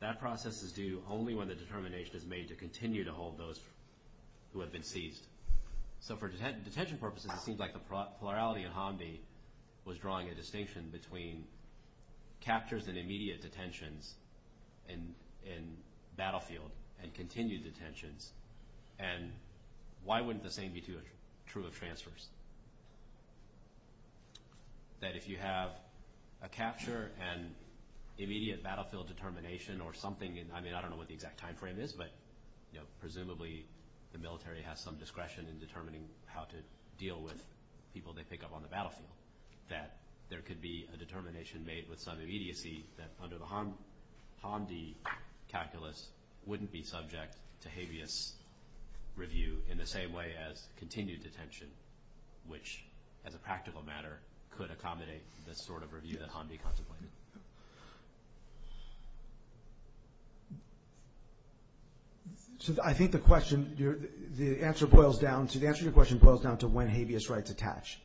That process is due only when the determination is made to continue to hold those who have been seized. So for detention purposes, it seems like the plurality in HMDI was drawing a distinction between captures and immediate detentions in battlefields and continued detentions. And why wouldn't the same be true of transfers? That if you have a capture and immediate battlefield determination or something – I mean, I don't know what the exact timeframe is, but presumably the military has some discretion in determining how to deal with people they pick up on the battlefield – that there could be a determination made with some immediacy that under a HMDI calculus wouldn't be subject to habeas review in the same way as continued detention, which as a practical matter could accommodate this sort of review that HMDI contemplated. So I think the question – the answer boils down – the answer to your question boils down to when habeas rights attach.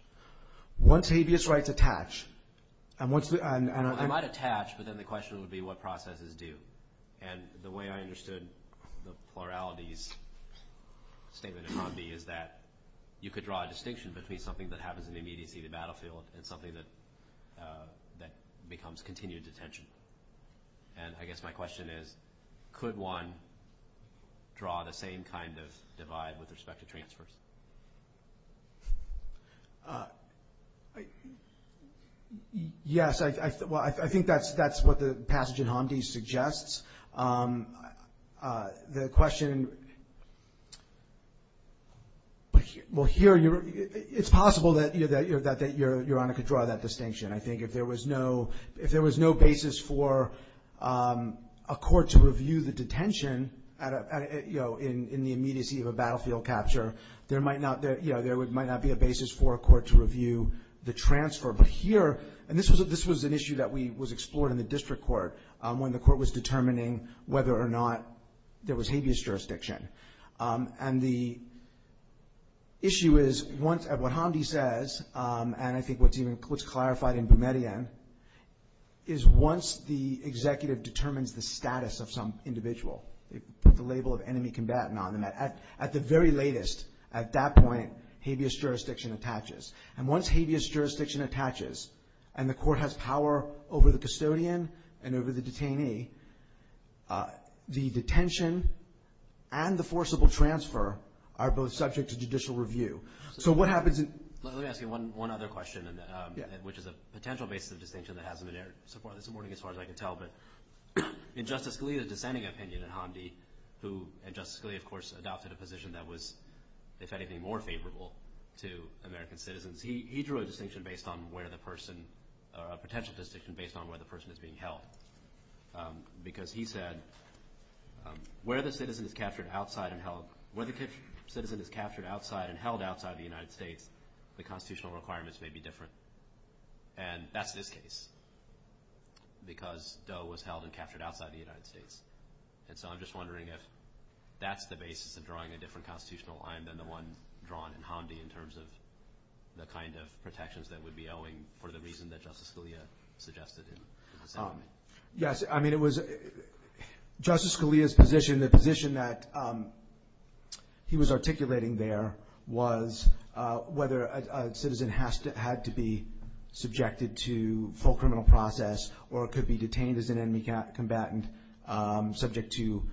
Once habeas rights attach, and once – I might attach, but then the question would be what processes do. And the way I understood the plurality's statement in HMDI is that you could draw a distinction between something that happens in the immediacy of the battlefield and something that becomes continued detention. And I guess my question is, could one draw the same kind of divide with respect to transfers? Yes, I – well, I think that's what the passage in Handi suggests. The question – well, here it's possible that Your Honor could draw that distinction. I think if there was no basis for a court to review the detention in the immediacy of a battlefield capture, there might not – there might not be a basis for a court to review the transfer. But here – and this was an issue that was explored in the district court when the court was determining whether or not there was habeas jurisdiction. And the issue is, once – what Handi says, and I think what's even – what's clarified in Bumerian, is once the executive determines the status of some individual, they put the label of enemy combatant on them, at the very latest, at that point, habeas jurisdiction attaches. And once habeas jurisdiction attaches and the court has power over the custodian and over the detainee, the detention and the forcible transfer are both subject to judicial review. So what happens if – Let me ask you one other question, which is a potential basis for distinction that hasn't been supported. This is more to get as far as I can tell, but in Justice Scalia's dissenting opinion in Handi, who – and Justice Scalia, of course, adopted a position that was, if anything, more favorable to American citizens. He drew a distinction based on where the person – a potential distinction based on where the person is being held. Because he said, where the citizen is captured outside and held – where the citizen is captured outside and held outside the United States, the constitutional requirements may be different. And that's his case, because Doe was held and captured outside the United States. And so I'm just wondering if that's the basis of drawing a different constitutional line than the one drawn in Handi in terms of the kind of protections that would be owing for the reason that Justice Scalia suggested in Handi. Yes. I mean, it was – Justice Scalia's position, the position that he was articulating there, was whether a citizen had to be subjected to full criminal process or could be detained as an enemy combatant subject to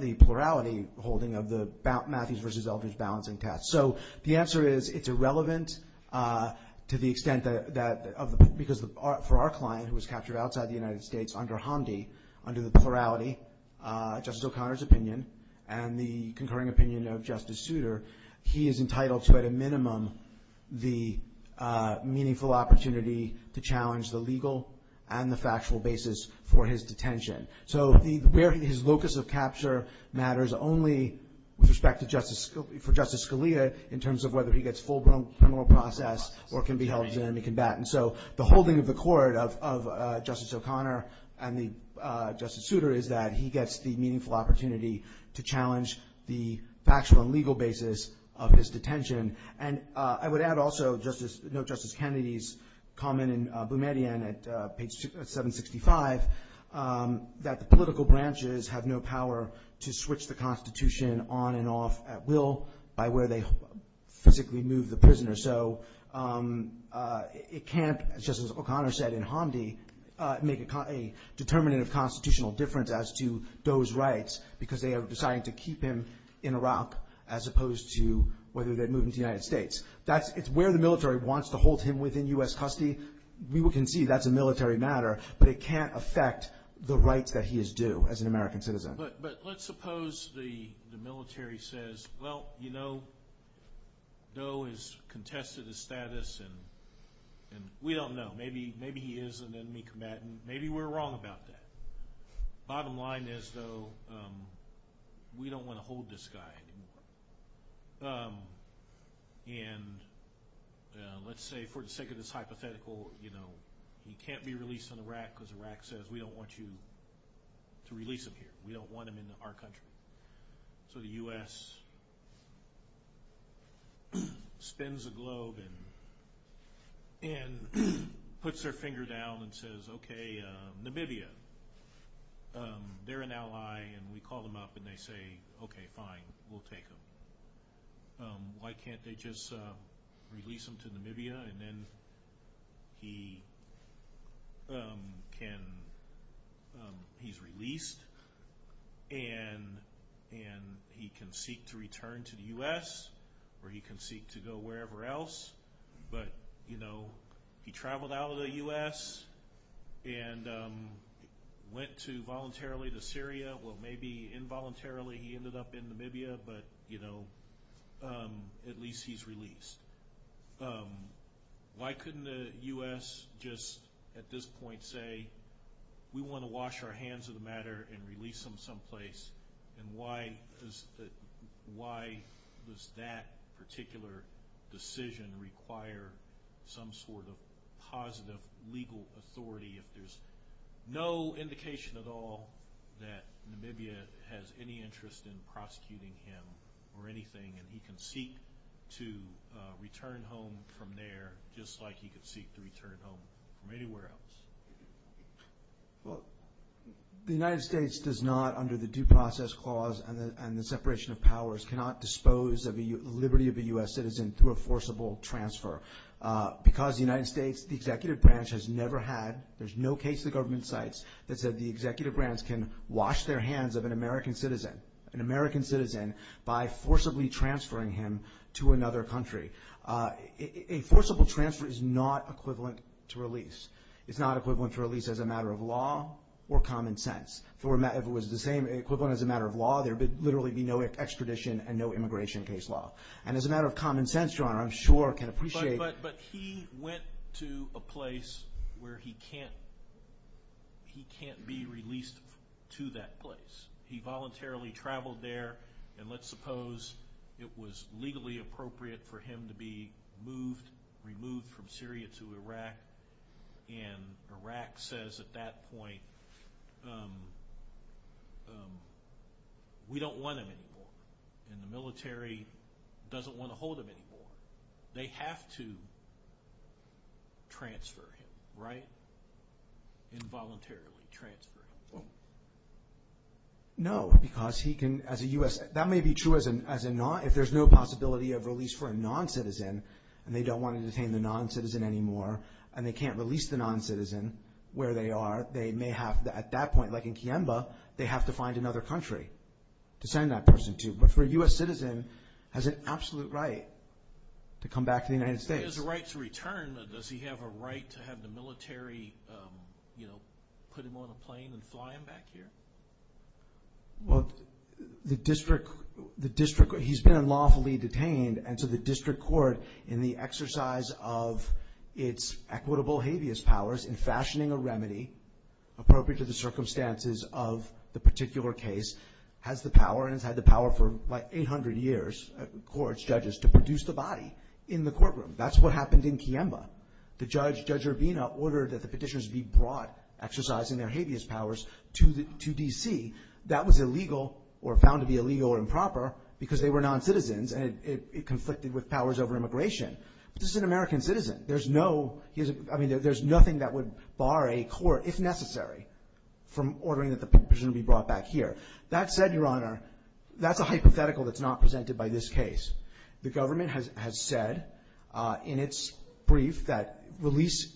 the plurality holding of the Matthews v. Eldridge balancing test. So the answer is it's irrelevant to the extent that – because for our client, who was captured outside the United States under Handi, under the plurality, Justice O'Connor's opinion, and the concurring opinion of Justice Souter, he is entitled to, at a minimum, the meaningful opportunity to challenge the legal and the factual basis for his detention. So his locus of capture matters only with respect to Justice – for Justice Scalia in terms of whether he gets full criminal process or can be held as an enemy combatant. So the holding of the court of Justice O'Connor and Justice Souter is that he gets the meaningful opportunity to challenge the factual and legal basis of his detention. And I would add also Justice – Justice Kennedy's comment in Boumediene at page 765 that the political branches have no power to switch the Constitution on and off at will by where they physically move the prisoner. So it can't, as Justice O'Connor said in Handi, make a determinative constitutional difference as to those rights because they have decided to keep him in Iraq as opposed to whether they move him to the United States. That's – it's where the military wants to hold him within U.S. custody. We can see that's a military matter, but it can't affect the rights that he is due as an American citizen. But let's suppose the military says, well, you know, Doe has contested his status, and we don't know. Maybe he is an enemy combatant. Maybe we're wrong about that. Bottom line is, though, we don't want to hold this guy anymore. And let's say for the sake of this hypothetical, you know, he can't be released in Iraq because Iraq says, we don't want you to release him here. We don't want him in our country. So the U.S. spins the globe and puts their finger down and says, okay, Namibia, they're an ally, and we call them up and they say, okay, fine, we'll take him. Why can't they just release him to Namibia, and then he can – he's released. And he can seek to return to the U.S. or he can seek to go wherever else. But, you know, he traveled out of the U.S. and went to voluntarily to Syria. Well, maybe involuntarily he ended up in Namibia, but, you know, at least he's released. Why couldn't the U.S. just at this point say, we want to wash our hands of the matter and release him someplace, and why does that particular decision require some sort of positive legal authority if there's no indication at all that Namibia has any interest in prosecuting him or anything, and he can seek to return home from there just like he could seek to return home from anywhere else? Well, the United States does not, under the Due Process Clause and the separation of powers, cannot dispose of the liberty of a U.S. citizen through a forcible transfer. Because the United States, the executive branch, has never had – there's no case in the government sites that said the executive branch can wash their hands of an American citizen, by forcibly transferring him to another country. A forcible transfer is not equivalent to release. It's not equivalent to release as a matter of law or common sense. If it was the same equivalent as a matter of law, there would literally be no extradition and no immigration case law. And as a matter of common sense, Your Honor, I'm sure I can appreciate – But he went to a place where he can't be released to that place. He voluntarily traveled there, and let's suppose it was legally appropriate for him to be moved, removed from Syria to Iraq, and Iraq says at that point, we don't want him anymore, and the military doesn't want to hold him anymore. They have to transfer him, right? Involuntarily transfer him. No, because he can, as a U.S. – that may be true as a non – if there's no possibility of release for a non-citizen, and they don't want to detain the non-citizen anymore, and they can't release the non-citizen where they are, they may have – at that point, like in Kienba, they have to find another country to send that person to. But for a U.S. citizen, has an absolute right to come back to the United States. If he has a right to return, does he have a right to have the military put him on a plane and fly him back here? Well, the district – he's been unlawfully detained, and so the district court, in the exercise of its equitable habeas powers in fashioning a remedy appropriate to the circumstances of the particular case, has the power, and has had the power for like 800 years, courts, judges, to produce the body in the courtroom. That's what happened in Kienba. The judge, Judge Urvina, ordered that the petitioners be brought, exercising their habeas powers, to D.C. That was illegal, or found to be illegal or improper, because they were non-citizens, and it conflicted with powers over immigration. This is an American citizen. There's no – I mean, there's nothing that would bar a court, if necessary, from ordering that the petitioner be brought back here. That said, Your Honor, that's a hypothetical that's not presented by this case. The government has said in its brief that release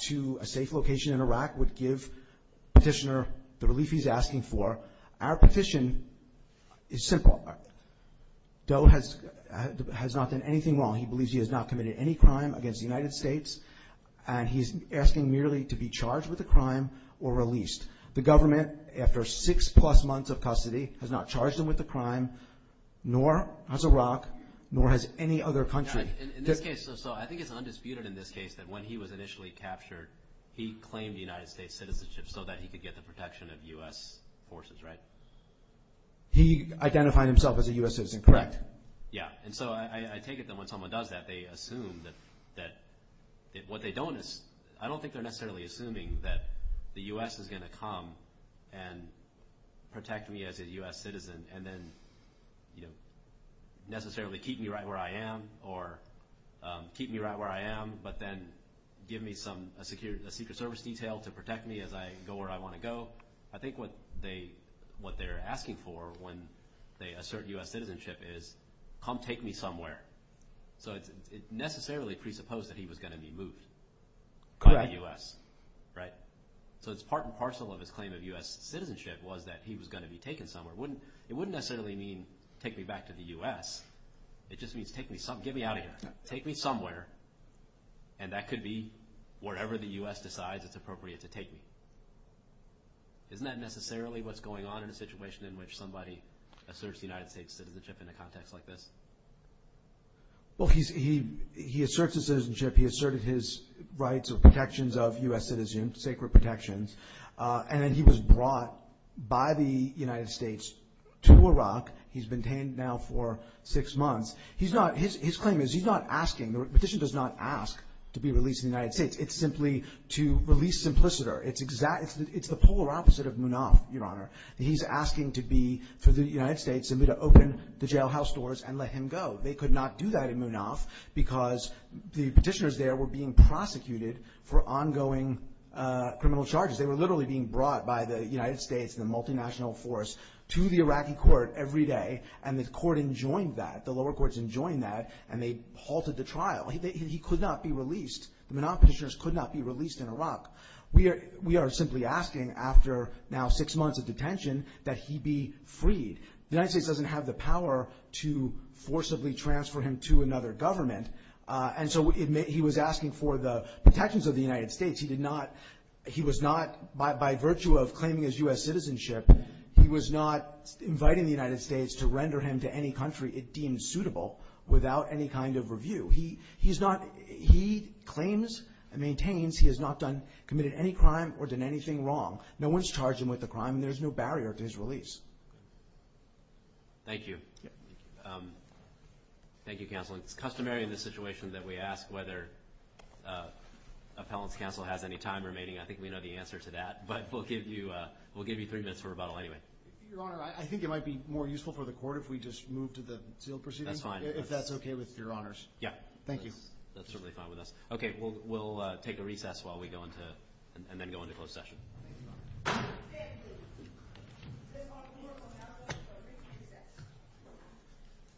to a safe location in Iraq would give the petitioner the relief he's asking for. Our petition is simple. Doe has not done anything wrong. He believes he has not committed any crime against the United States, and he's asking merely to be charged with a crime or released. The government, after six-plus months of custody, has not charged him with a crime, nor has Iraq, nor has any other country. In this case, though, I think it's undisputed in this case that when he was initially captured, he claimed United States citizenship so that he could get the protection of U.S. forces, right? He identified himself as a U.S. citizen, correct. Yeah. And so I take it that when someone does that, they assume that – what they don't – I don't think they're necessarily assuming that the U.S. is going to come and protect me as a U.S. citizen and then, you know, necessarily keep me right where I am or keep me right where I am but then give me some – a Secret Service detail to protect me as I go where I want to go. Well, I think what they're asking for when they assert U.S. citizenship is, come take me somewhere. So it's necessarily presupposed that he was going to be moved to the U.S., right? So it's part and parcel of his claim of U.S. citizenship was that he was going to be taken somewhere. It wouldn't necessarily mean take me back to the U.S. It just means take me – get me out of here. Take me somewhere, and that could be wherever the U.S. decides it's appropriate to take me. Isn't that necessarily what's going on in a situation in which somebody asserts the United States' citizenship in a context like this? Well, he asserts his citizenship. He asserted his rights of protections of U.S. citizens, sacred protections, and then he was brought by the United States to Iraq. He's been detained now for six months. He's not – his claim is he's not asking – the petition does not ask to be released in the United States. It's simply to release Simpliciter. It's the polar opposite of Munaf, Your Honor. He's asking to be – for the United States to open the jailhouse doors and let him go. They could not do that in Munaf because the petitioners there were being prosecuted for ongoing criminal charges. They were literally being brought by the United States, the multinational force, to the Iraqi court every day, and the court enjoined that, the lower courts enjoined that, and they halted the trial. He could not be released. The Munaf petitioners could not be released in Iraq. We are simply asking after now six months of detention that he be freed. The United States doesn't have the power to forcibly transfer him to another government, and so he was asking for the protections of the United States. He did not – he was not – by virtue of claiming his U.S. citizenship, he was not inviting the United States to render him to any country it deemed suitable without any kind of review. He's not – he claims and maintains he has not done – committed any crime or done anything wrong. No one's charged him with a crime and there's no barrier to his release. Thank you. Thank you, Counsel. It's customary in this situation that we ask whether appellant counsel has any time remaining. I think we know the answer to that. But we'll give you three minutes for rebuttal anyway. Your Honor, I think it might be more useful for the court if we just move to the sealed proceedings. That's fine. If that's okay with Your Honors. Yeah. Thank you. That's certainly fine with us. Okay, we'll take a recess while we go into – and then go into closed session.